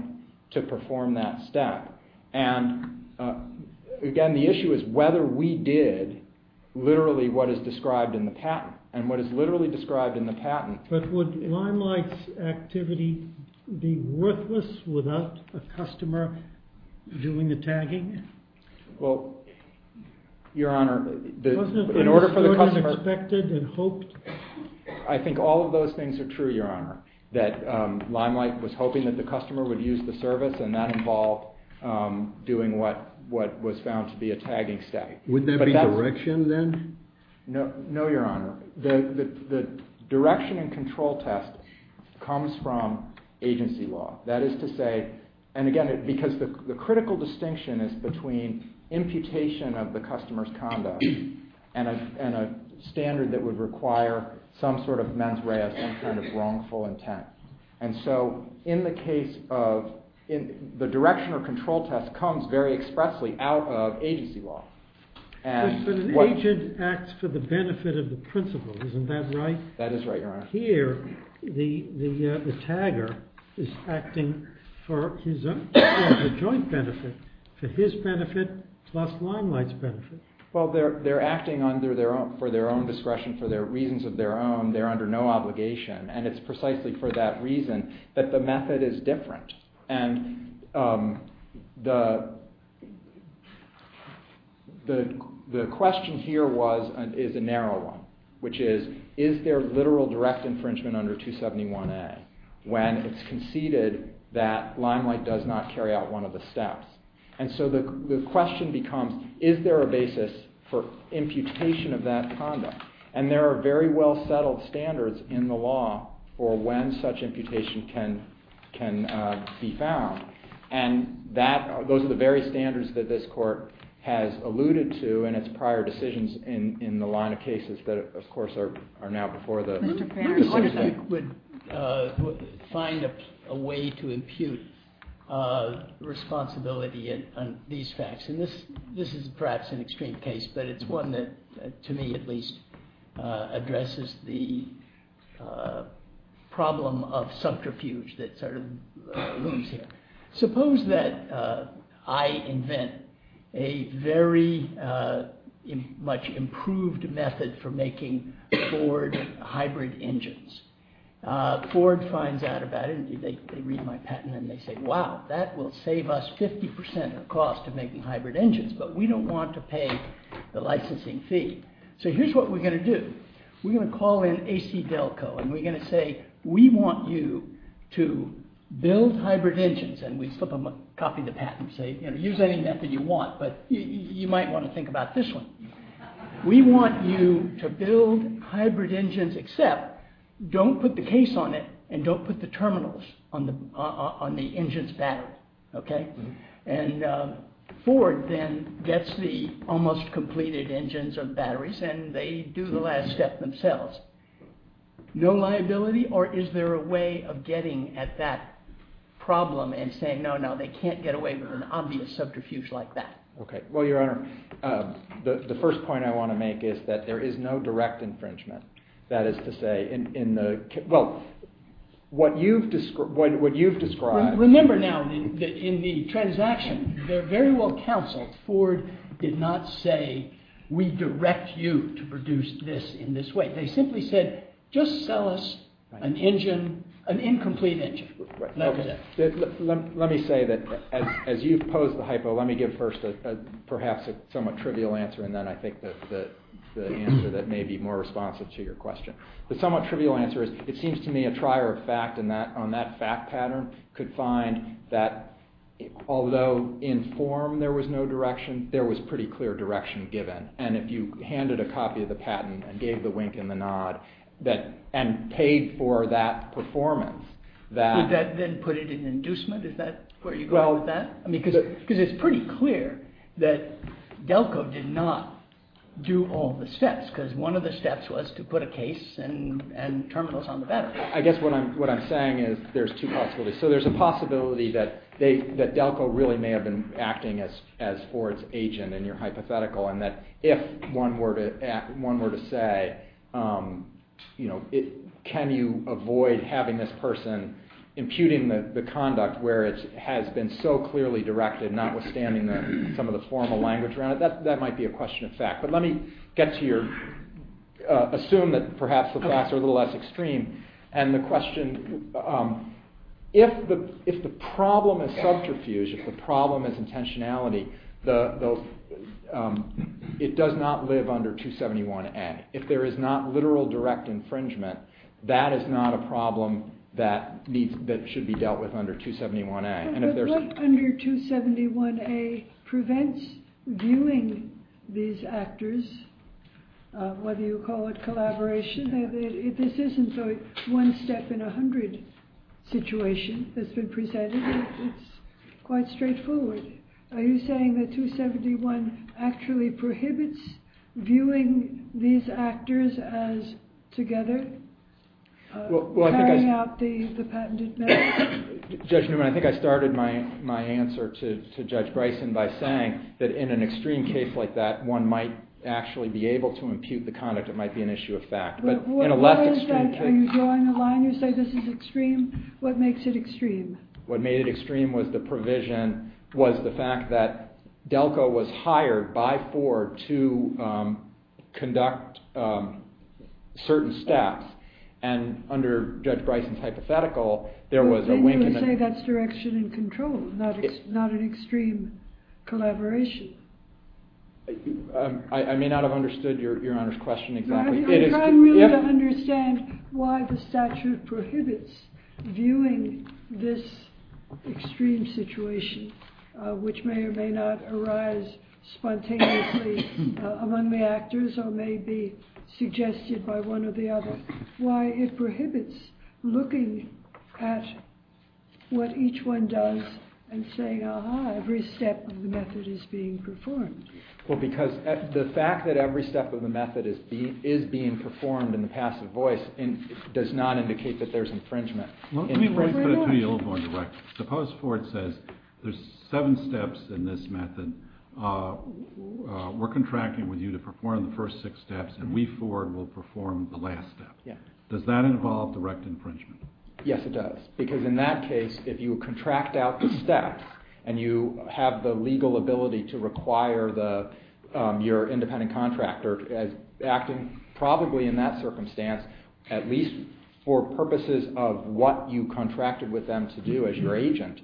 to perform that step. And, again, the issue is whether we did literally what is described in the patent, and what is literally described in the patent. But would Limelight's activity be worthless without a customer doing the tagging? Well, Your Honor, in order for the customer- Wasn't the customer suspected and hoped- I think all of those things are true, Your Honor, that Limelight was hoping that the customer would use the service, and that involved doing what was found to be a tagging step. Wouldn't that be direction, then? No, Your Honor. The direction and control test comes from agency law. That is to say, and again, because the critical distinction is between imputation of the customer's conduct and a standard that would require some sort of mens rea function of wrongful intent. And so, in the case of- the direction or control test comes very expressly out of agency law. But an agent acts for the benefit of the principal, isn't that right? That is right, Your Honor. But here, the tagger is acting for a joint benefit, for his benefit plus Limelight's benefit. Well, they're acting for their own discretion, for reasons of their own. They're under no obligation, and it's precisely for that reason that the method is different. And the question here is a narrow one, which is, is there literal direct infringement under 271A when it's conceded that Limelight does not carry out one of the steps? And so the question becomes, is there a basis for imputation of that conduct? And there are very well-settled standards in the law for when such imputation can be found. And that- those are the very standards that this Court has alluded to in its prior decisions in the line of cases that, of course, are now before the- Mr. Perry, would you find a way to impute responsibility on these facts? This is perhaps an extreme case, but it's one that, to me at least, addresses the problem of subterfuge that sort of looms here. Suppose that I invent a very much improved method for making Ford hybrid engines. Ford finds out about it, and they read my patent, and they say, wow, that will save us 50% of the cost of making hybrid engines, but we don't want to pay the licensing fee. So here's what we're going to do. We're going to call in ACDelco, and we're going to say, we want you to build hybrid engines, and we slip a copy of the patent and say, you know, use any method you want, but you might want to think about this one. We want you to build hybrid engines except don't put the case on it and don't put the terminals on the engine's battery. Okay? And Ford then gets the almost completed engines and batteries, and they do the last step themselves. No liability or is there a way of getting at that problem and saying, no, no, they can't get away with an obvious subterfuge like that? Okay. Well, Your Honor, the first point I want to make is that there is no direct infringement. That is to say, in the – well, what you've described – Remember now, in the transaction, they're very well counseled. Ford did not say, we direct you to produce this in this way. They simply said, just sell us an engine, an incomplete engine. Let me say that as you pose the hypo, let me give first perhaps a somewhat trivial answer, and then I think the answer that may be more responsive to your question. The somewhat trivial answer is it seems to me a trier of fact on that fact pattern could find that although in form there was no direction, there was pretty clear direction given. And if you handed a copy of the patent and gave the wink and the nod and paid for that performance, that – Would that then put it in inducement? Is that where you go with that? I mean, because it's pretty clear that Delco did not do all the steps because one of the steps was to put a case and terminals on the back. I guess what I'm saying is there's two possibilities. So there's a possibility that Delco really may have been acting as Ford's agent in your hypothetical and that if one were to say, you know, can you avoid having this person imputing the conduct where it has been so clearly directed notwithstanding some of the formal language around it, that might be a question of fact. But let me get to your – assume that perhaps the facts are a little less extreme. And the question – if the problem is self-refuge, if the problem is intentionality, it does not live under 271N. If there is not literal direct infringement, that is not a problem that needs – that should be dealt with under 271A. But what under 271A prevents viewing these actors, whether you call it collaboration, if this isn't a one-step-in-a-hundred situation that's been presented, it's quite straightforward. So are you saying that 271 actually prohibits viewing these actors as together, carrying out the patented measure? Judge Newman, I think I started my answer to Judge Bryson by saying that in an extreme case like that, one might actually be able to impute the conduct. It might be an issue of fact. But what is that? Are you drawing the line? You say this is extreme. What makes it extreme? What made it extreme was the provision, was the fact that Delco was hired by Ford to conduct certain staff. And under Judge Bryson's hypothetical, there was a – But then you would say that's direction and control, not an extreme collaboration. I may not have understood Your Honor's question exactly. I'm trying really to understand why the statute prohibits viewing this extreme situation, which may or may not arise spontaneously among the actors or may be suggested by one or the other. Why it prohibits looking at what each one does and saying, ah-ha, every step of the method is being performed. Well, because the fact that every step of the method is being performed in the passive voice does not indicate that there's infringement. Let me put it to you a little more directly. Suppose Ford says there's seven steps in this method. We're contracting with you to perform the first six steps, and we, Ford, will perform the last step. Does that involve direct infringement? Yes, it does. Because in that case, if you contract out the steps and you have the legal ability to require your independent contractor as acting probably in that circumstance, at least for purposes of what you contracted with them to do as your agent,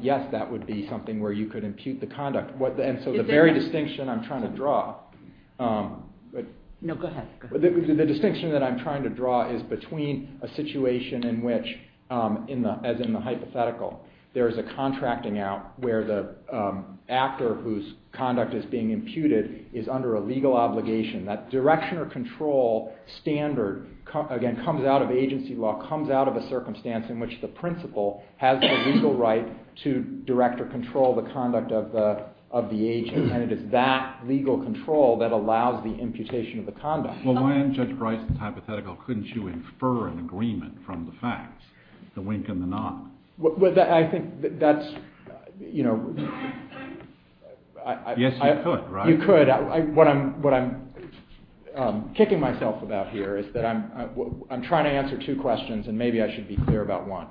yes, that would be something where you could impute the conduct. And so the very distinction I'm trying to draw – No, go ahead. The distinction that I'm trying to draw is between a situation in which, as in the hypothetical, there's a contracting out where the actor whose conduct is being imputed is under a legal obligation. That direction or control standard, again, comes out of agency law, comes out of a circumstance in which the principal has a legal right to direct or control the conduct of the agent, and it is that legal control that allows the imputation of the conduct. Well, why in Judge Breis' hypothetical couldn't you infer an agreement from the facts, the wink and the nod? Well, I think that's – Yes, you could, right? You could. What I'm kicking myself about here is that I'm trying to answer two questions, and maybe I should be clear about one.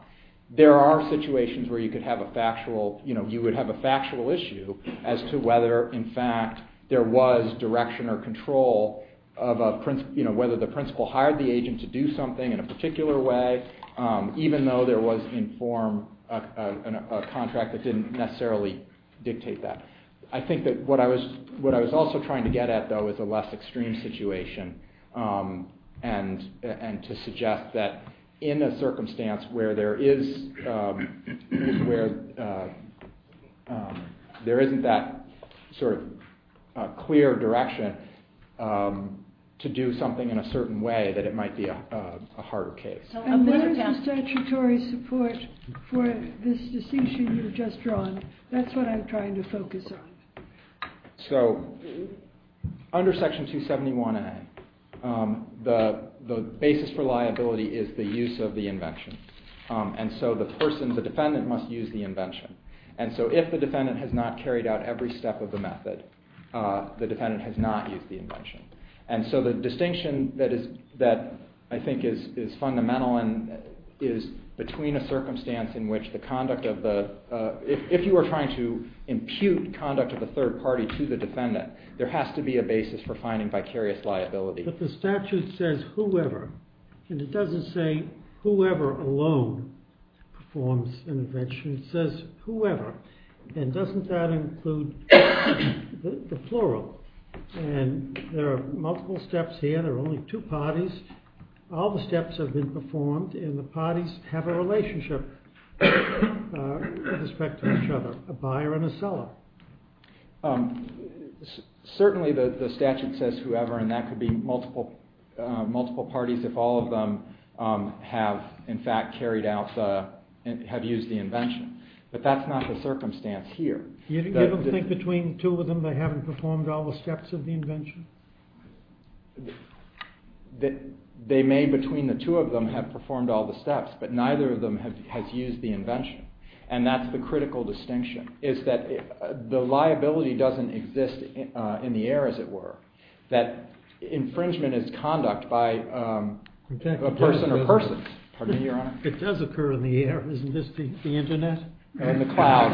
There are situations where you could have a factual – you know, you would have a factual issue as to whether, in fact, there was direction or control of a – you know, whether the principal hired the agent to do something in a particular way, even though there was in form a contract that didn't necessarily dictate that. I think that what I was also trying to get at, though, was a less extreme situation and to suggest that in a circumstance where there is – where there isn't that sort of clear direction to do something in a certain way, that it might be a harder case. And what is the statutory support for this decision you've just drawn? That's what I'm trying to focus on. So under Section 271A, the basis for liability is the use of the invention. And so the person, the defendant, must use the invention. And so if the defendant has not carried out every step of the method, the defendant has not used the invention. And so the distinction that is – that I think is fundamental and is between a circumstance in which the conduct of the – if you were trying to impute conduct of the third party to the defendant, there has to be a basis for finding vicarious liability. But the statute says whoever. And it doesn't say whoever alone performs an invention. It says whoever. And doesn't that include the plural? And there are multiple steps here. There are only two parties. All the steps have been performed, and the parties have a relationship with respect to each other, a buyer and a seller. Certainly the statute says whoever, and that could be multiple parties if all of them have, in fact, carried out – have used the invention. But that's not the circumstance here. You don't think between two of them they haven't performed all the steps of the invention? They may, between the two of them, have performed all the steps, but neither of them has used the invention. And that's the critical distinction, is that the liability doesn't exist in the air, as it were. That infringement is conduct by a person or persons. Pardon me, Your Honor. It does occur in the air. Isn't this the Internet? In the cloud.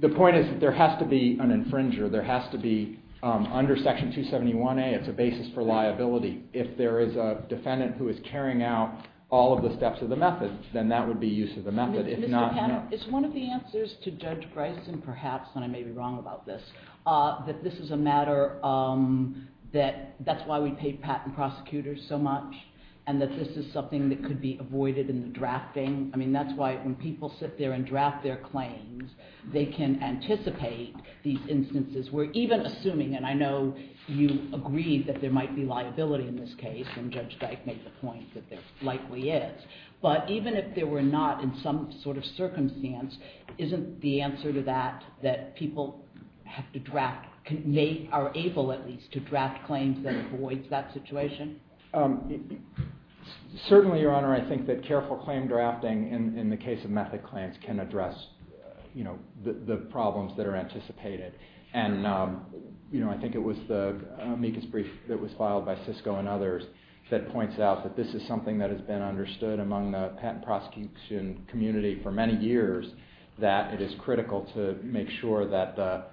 The point is that there has to be an infringer. There has to be, under Section 271A, it's a basis for liability. If there is a defendant who is carrying out all of the steps of the method, then that would be use of the method. It's one of the answers to Judge Greisen, perhaps, and I may be wrong about this, that this is a matter that – that's why we pay patent prosecutors so much, and that this is something that could be avoided in the drafting. I mean, that's why when people sit there and draft their claims, they can anticipate these instances where even assuming – and I know you agree that there might be liability in this case, and Judge Dyke made the point that there likely is. But even if there were not in some sort of circumstance, isn't the answer to that that people have to draft – they are able, at least, to draft claims that avoids that situation? Certainly, Your Honor, I think that careful claim drafting in the case of method claims can address the problems that are anticipated. And, you know, I think it was the amicus brief that was filed by Cisco and others that points out that this is something that has been understood among the patent prosecution community for many years, that it is critical to make sure that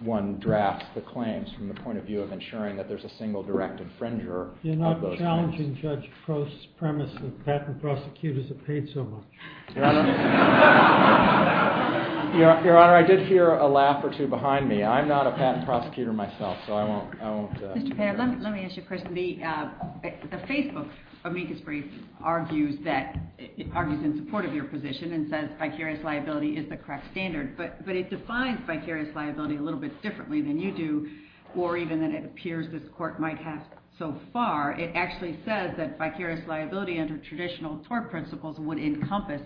one drafts the claims from the point of view of ensuring that there's a single direct infringer. You're not challenging Judge Post's premise that patent prosecutors are paid so much. Your Honor, I did hear a laugh or two behind me. I'm not a patent prosecutor myself, so I won't – Mr. Fair, let me ask you a question. The Facebook amicus brief argues that – it argues in support of your position and says vicarious liability is the correct standard. But it defines vicarious liability a little bit differently than you do, or even than it appears this Court might have so far. It actually says that vicarious liability under traditional tort principles would encompass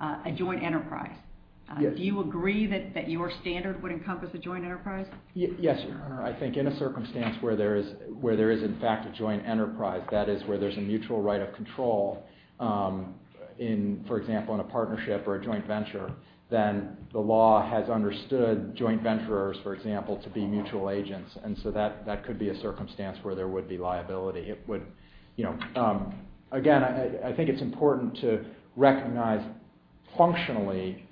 a joint enterprise. Do you agree that your standard would encompass a joint enterprise? Yes, Your Honor. I think in a circumstance where there is, in fact, a joint enterprise, that is, where there's a mutual right of control in, for example, in a partnership or a joint venture, then the law has understood joint venturers, for example, to be mutual agents. And so that could be a circumstance where there would be liability. Again, I think it's important to recognize functionally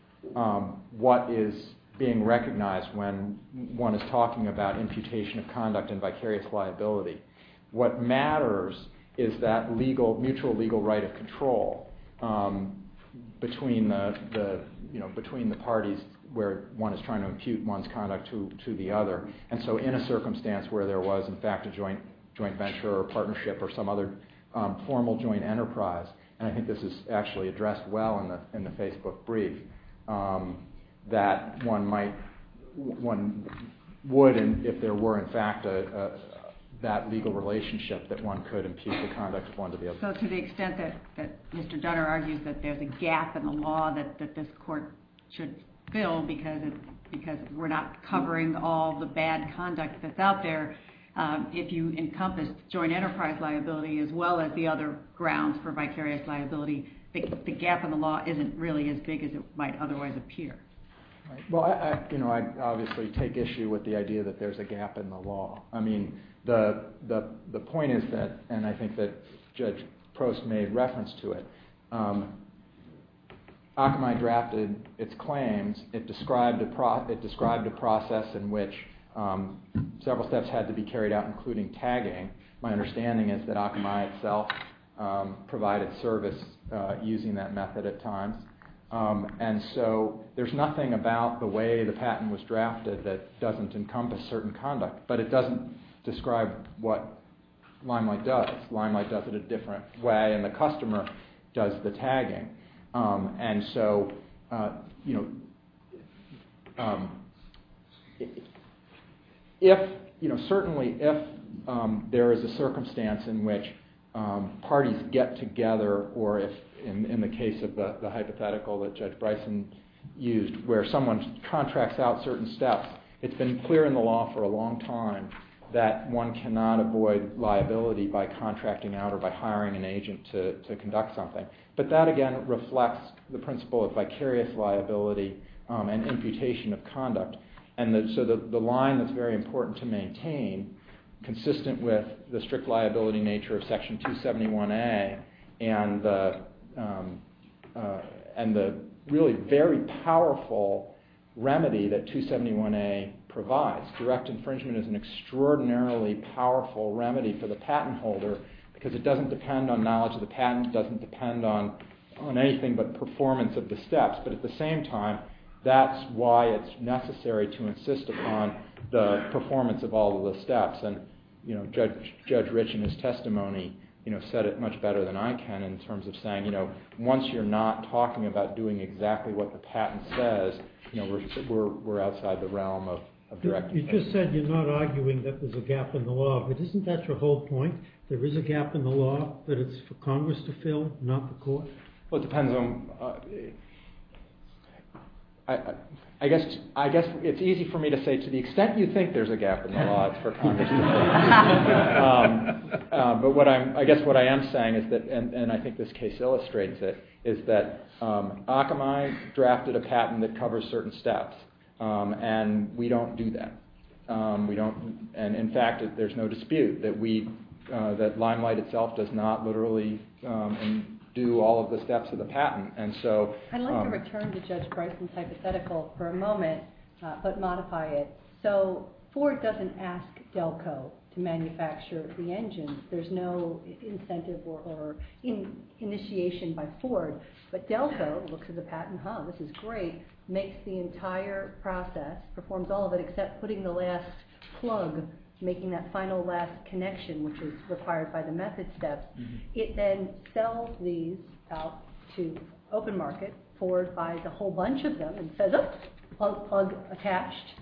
what is being recognized when one is talking about imputation of conduct and vicarious liability. What matters is that mutual legal right of control between the parties where one is trying to impute one's conduct to the other. And so in a circumstance where there was, in fact, a joint venture or partnership or some other formal joint enterprise – and I think this is actually addressed well in the Facebook brief – that one would, if there were, in fact, that legal relationship that one could impute the conduct of one to the other. To the extent that Mr. Dunner argues that there's a gap in the law that this Court should fill because we're not covering all the bad conduct that's out there, if you encompass joint enterprise liability as well as the other grounds for vicarious liability, the gap in the law isn't really as big as it might otherwise appear. Well, I obviously take issue with the idea that there's a gap in the law. I mean, the point is that – and I think that Judge Prost made reference to it – Akamai drafted its claims. It described a process in which several steps had to be carried out, including tagging. My understanding is that Akamai itself provided service using that method at times. And so there's nothing about the way the patent was drafted that doesn't encompass certain conduct, but it doesn't describe what Limelight does. Limelight does it a different way, and the customer does the tagging. And so, certainly, if there is a circumstance in which parties get together, or in the case of the hypothetical that Judge Bryson used where someone contracts out certain steps, it's been clear in the law for a long time that one cannot avoid liability by contracting out or by hiring an agent to conduct something. But that, again, reflects the principle of vicarious liability and imputation of conduct. And so the line that's very important to maintain, consistent with the strict liability nature of Section 271A and the really very powerful remedy that 271A provides – direct infringement is an extraordinarily powerful remedy for the patent holder because it doesn't depend on knowledge of the patent. It doesn't depend on anything but performance of the steps. But at the same time, that's why it's necessary to insist upon the performance of all of the steps. And Judge Rich in his testimony said it much better than I can in terms of saying, once you're not talking about doing exactly what the patent says, we're outside the realm of direct infringement. You just said you're not arguing that there's a gap in the law, but isn't that your whole point? There is a gap in the law that it's for Congress to fill, not the court? Well, it depends on – I guess it's easy for me to say, to the extent you think there's a gap in the law, it's for Congress to fill. But I guess what I am saying, and I think this case illustrates it, is that Akamai drafted a patent that covers certain steps, and we don't do that. And in fact, there's no dispute that Limelight itself does not literally do all of the steps of the patent. And so – But Delco, which is a patent hub, which is great, makes the entire process, performs all of it except putting the last plug, making that final last connection, which is required by the method step. It then sells these out to open market, and then Delco goes forward, buys a whole bunch of them, and says, oops, plug attached,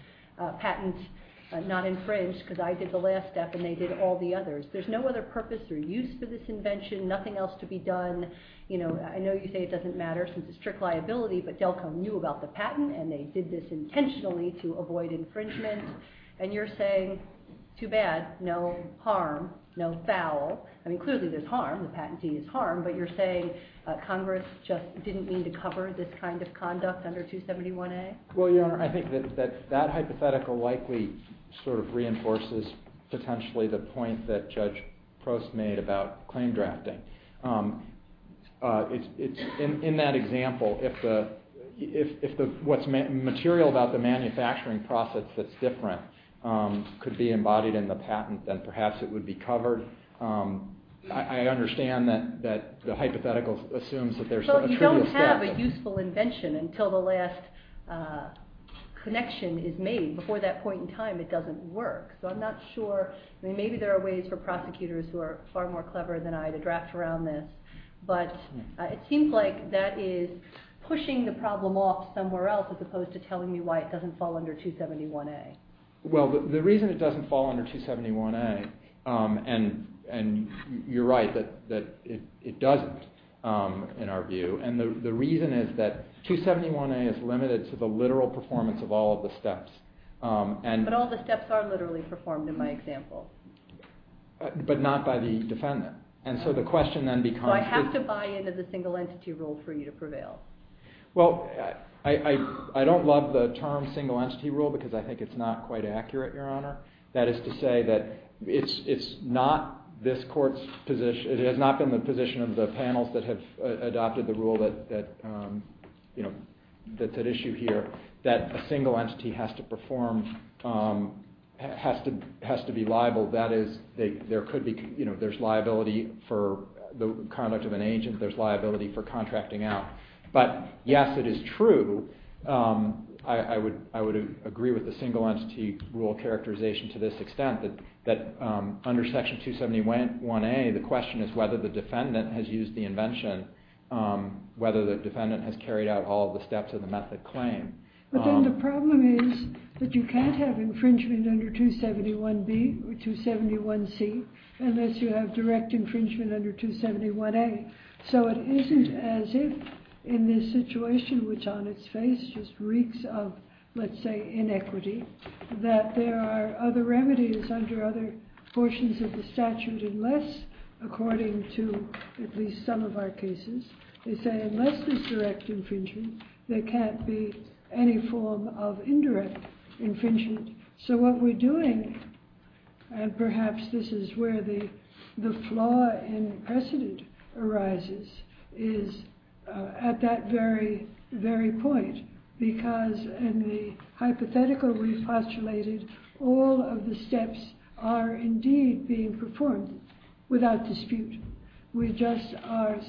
patent not infringed, because I did the last step and they did all the others. There's no other purpose or use for this invention, nothing else to be done. I know you say it doesn't matter since it's strict liability, but Delco knew about the patent and they did this intentionally to avoid infringement. And you're saying, too bad, no harm, no foul. I mean, clearly there's harm, the patent deed is harm, but you're saying Congress just didn't mean to cover this kind of conduct under 271A? Well, Your Honor, I think that that hypothetical likely sort of reinforces potentially the point that Judge Prost made about claim drafting. In that example, if what's material about the manufacturing process that's different could be embodied in the patent, then perhaps it would be covered. I understand that the hypothetical assumes that there's some truth to that. But it doesn't have a useful invention until the last connection is made. Before that point in time, it doesn't work. So I'm not sure. I mean, maybe there are ways for prosecutors who are far more clever than I to draft around this. But it seems like that is pushing the problem off somewhere else as opposed to telling me why it doesn't fall under 271A. Well, the reason it doesn't fall under 271A, and you're right that it doesn't in our view, and the reason is that 271A is limited to the literal performance of all of the steps. But all the steps are literally performed in my example. But not by the defendant. And so the question then becomes... So I have to buy into the single entity rule for you to prevail. Well, I don't love the term single entity rule because I think it's not quite accurate, Your Honor. That is to say that it's not this court's position, it has not been the position of the panels that have adopted the rule that's at issue here, that a single entity has to perform, has to be liable. That is, there's liability for the conduct of an agent, there's liability for contracting out. But yes, it is true. I would agree with the single entity rule characterization to this extent that under Section 271A, the question is whether the defendant has used the invention, whether the defendant has carried out all the steps of the method claim. But then the problem is that you can't have infringement under 271B or 271C unless you have direct infringement under 271A. So it isn't as if in this situation which on its face just reeks of, let's say, inequity, that there are other remedies under other portions of the statute unless, according to at least some of our cases, they say unless there's direct infringement, there can't be any form of indirect infringement. So what we're doing, and perhaps this is where the flaw in precedent arises, is at that very, very point, because in the hypothetical we postulated, all of the steps are indeed being performed without dispute. We just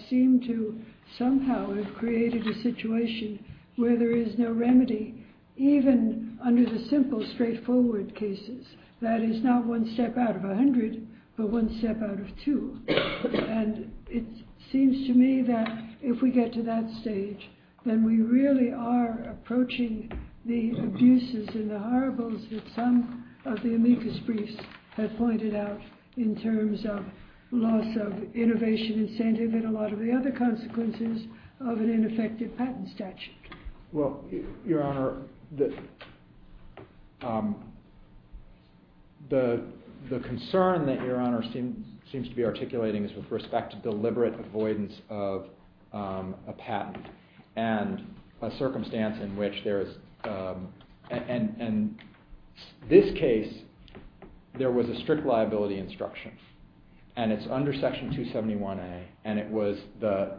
seem to somehow have created a situation where there is no remedy, even under the simple straightforward cases. That is not one step out of a hundred, but one step out of two. And it seems to me that if we get to that stage, then we really are approaching the abuses and the horribles that some of the amicus briefs have pointed out in terms of loss of innovation and standing and a lot of the other consequences of an ineffective patent statute. Well, Your Honor, the concern that Your Honor seems to be articulating is with respect to deliberate avoidance of a patent and a circumstance in which there is, and in this case, there was a strict liability instruction. And it's under Section 271A, and it was the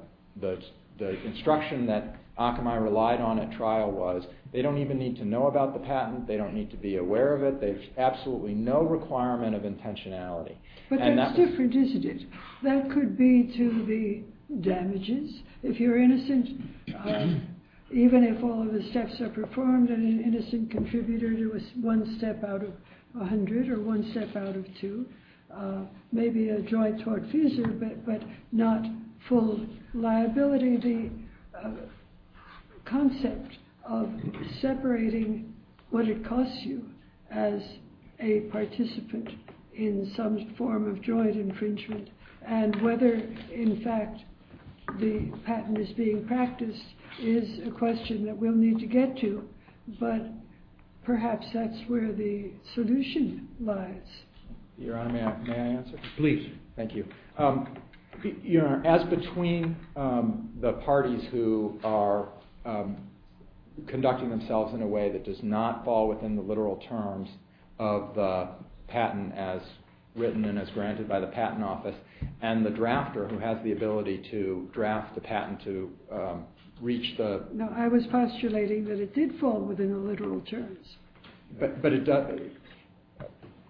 instruction that Akamai relied on at trial was they don't even need to know about the patent, they don't need to be aware of it, there's absolutely no requirement of intentionality. But that's different, isn't it? That could be to the damages. If you're innocent, even if all of the steps are performed on an innocent contributor, there was one step out of a hundred or one step out of two. Maybe a joint tort fusion, but not full liability. The concept of separating what it costs you as a participant in some form of joint infringement and whether, in fact, the patent is being practiced is a question that we'll need to get to, but perhaps that's where the solution lies. Your Honor, may I answer? Please. Thank you. Your Honor, as between the parties who are conducting themselves in a way that does not fall within the literal terms of the patent as written and as granted by the patent office, and the drafter who has the ability to draft the patent to reach the... No, I was postulating that it did fall within the literal terms.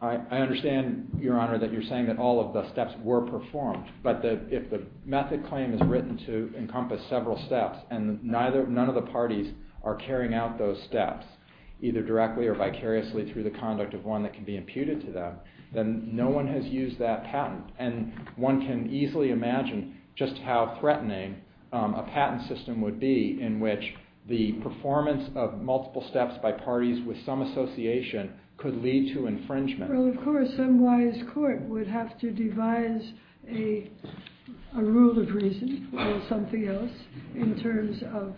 I understand, Your Honor, that you're saying that all of the steps were performed, but if the method claim is written to encompass several steps and none of the parties are carrying out those steps, either directly or vicariously through the conduct of one that can be imputed to them, then no one has used that patent. One can easily imagine just how threatening a patent system would be in which the performance of multiple steps by parties with some association could lead to infringement. Well, of course, some wise court would have to devise a rule of reason or something else in terms of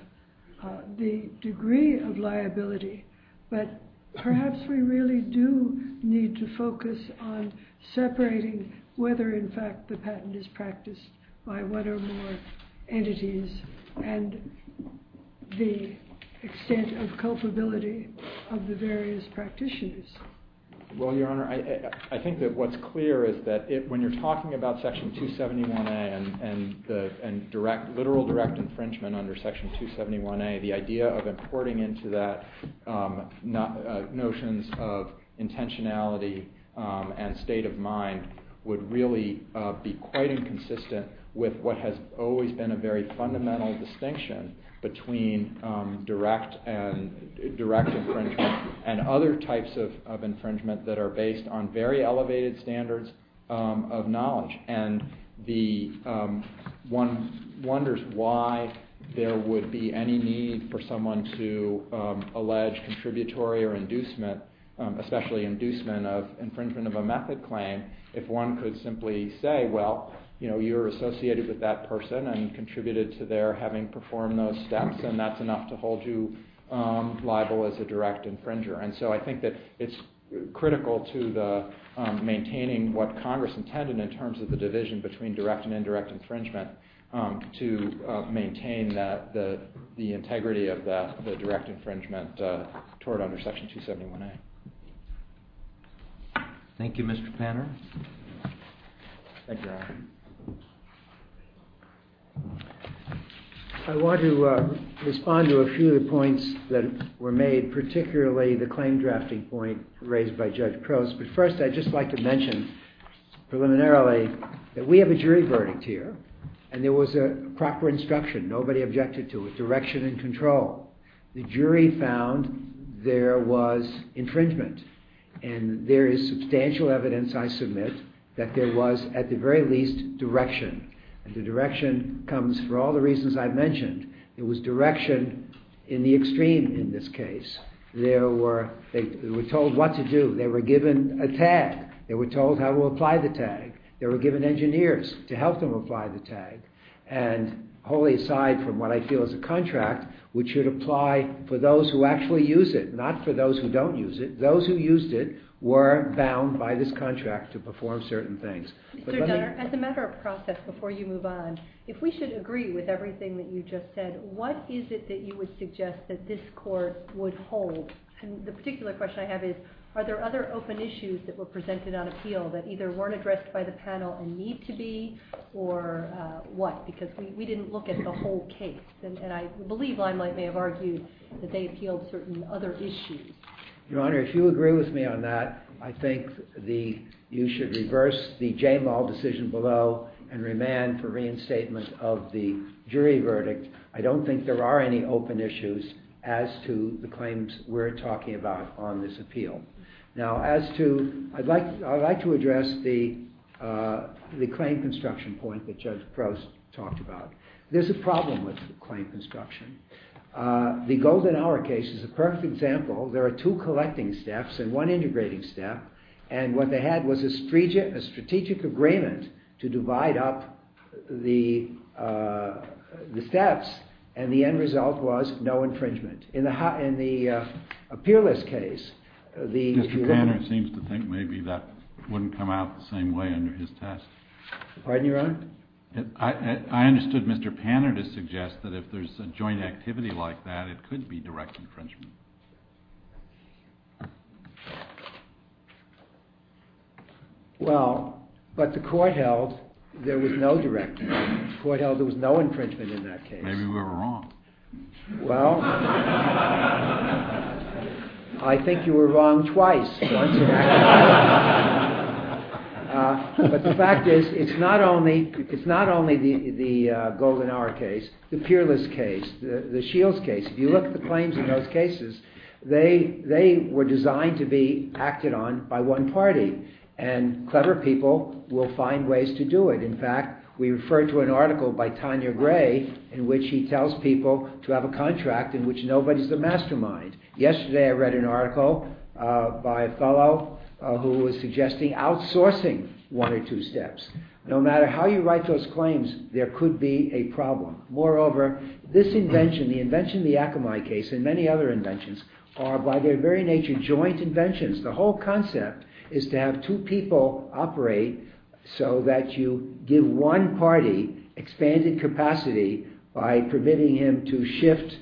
the degree of liability, but perhaps we really do need to focus on separating whether, in fact, the patent is practiced by one or more entities and the extent of culpability of the various practitioners. Well, Your Honor, I think that what's clear is that when you're talking about Section 271A and literal direct infringement under Section 271A, the idea of importing into that notions of intentionality and state of mind would really be quite inconsistent with what has always been a very fundamental distinction between direct infringement and other types of infringement that are based on very elevated standards of knowledge, and one wonders why there would be any need for someone to allege contributory or inducement, especially inducement of infringement of a method claim if one could simply say, well, you're associated with that person and contributed to their having performed those steps and that's enough to hold you liable as a direct infringer. And so I think that it's critical to maintaining what Congress intended in terms of the division between direct and indirect infringement to maintain the integrity of the direct infringement toward under Section 271A. Thank you, Mr. Klamer. Thank you, Your Honor. I want to respond to a few of the points that were made, particularly the claim drafting point raised by Judge Crouse, but first I'd just like to mention preliminarily that we have a jury verdict here and there was a proper instruction. Nobody objected to it. Direction and control. The jury found there was infringement and there is substantial evidence, I submit, that there was at the very least direction. And the direction comes for all the reasons I've mentioned. There was direction in the extreme in this case. They were told what to do. They were given a tag. They were told how to apply the tag. They were given engineers to help them apply the tag. And wholly aside from what I feel is a contract, which should apply for those who actually use it, not for those who don't use it. Those who used it were bound by this contract to perform certain things. As a matter of process, before you move on, if we should agree with everything that you just said, what is it that you would suggest that this Court would hold? And the particular question I have is, are there other open issues that were presented on appeal that either weren't addressed by the panel and need to be or what? Because we didn't look at the whole case. And I believe I might have argued that they appealed certain other issues. Your Honor, if you agree with me on that, I think you should reverse the Jane Law decision below and remand for reinstatement of the jury verdict. I don't think there are any open issues as to the claims we're talking about on this appeal. Now, as to, I'd like to address the claim construction point that Judge Crouse talked about. There's a problem with claim construction. The Golden Hour case is a perfect example. There are two collecting staffs and one integrating staff. And what they had was a strategic agreement to divide up the thefts, and the end result was no infringement. In the appealist case, the— Mr. Panner seems to think maybe that wouldn't come out the same way under his test. Pardon me, Your Honor? I understood Mr. Panner to suggest that if there's a joint activity like that, it could be direct infringement. Well, but the court held there was no direct infringement. The court held there was no infringement in that case. Maybe we were wrong. Well, I think you were wrong twice. But the fact is, it's not only the Golden Hour case, the peerless case, the Shields case. If you look at the claims in those cases, they were designed to be acted on by one party, and clever people will find ways to do it. In fact, we refer to an article by Tanya Gray in which she tells people to have a contract in which nobody's the mastermind. Yesterday I read an article by a fellow who was suggesting outsourcing one or two steps. No matter how you write those claims, there could be a problem. Moreover, this invention, the invention of the Akamai case, and many other inventions, are by their very nature joint inventions. The whole concept is to have two people operate so that you give one party expanded capacity by permitting him to shift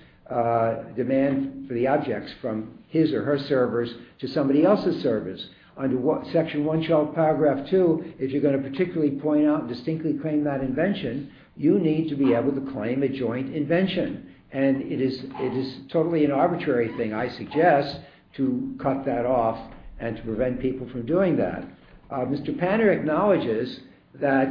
demand for the objects from his or her servers to somebody else's servers. Under Section 1, Shelf Paragraph 2, if you're going to particularly point out and distinctly claim that invention, you need to be able to claim a joint invention. And it is totally an arbitrary thing, I suggest, to cut that off and to prevent people from doing that. Mr. Panner acknowledges that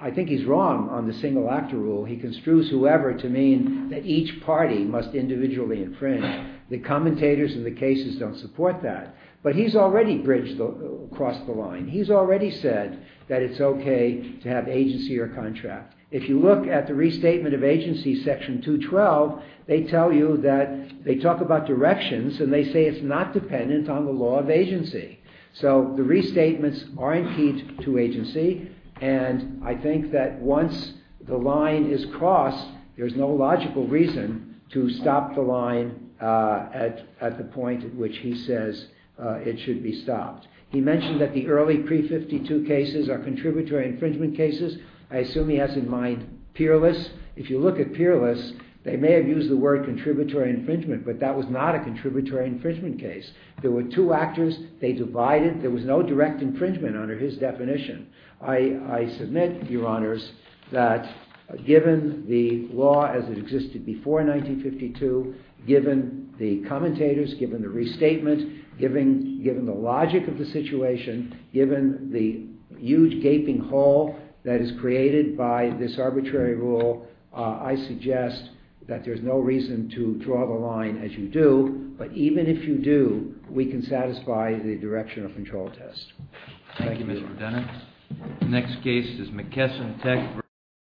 I think he's wrong on the single actor rule. He construes whoever to mean that each party must individually infringe. The commentators in the cases don't support that. But he's already bridged across the line. He's already said that it's okay to have agency or contract. If you look at the restatement of agency, Section 212, they tell you that they talk about directions and they say it's not dependent on the law of agency. So the restatements are indeed to agency, and I think that once the line is crossed, there's no logical reason to stop the line at the point at which he says it should be stopped. He mentioned that the early pre-'52 cases are contributory infringement cases. I assume he has in mind peerless. If you look at peerless, they may have used the word contributory infringement, but that was not a contributory infringement case. There were two actors. They divided. There was no direct infringement under his definition. I submit, Your Honors, that given the law as it existed before 1952, given the commentators, given the restatements, given the logic of the situation, given the huge gaping hole that is created by this arbitrary rule, I suggest that there's no reason to draw the line as you do. But even if you do, we can satisfy the direction of control test. Thank you, Mr. McDonough. The next case is McKesson v. Brewer.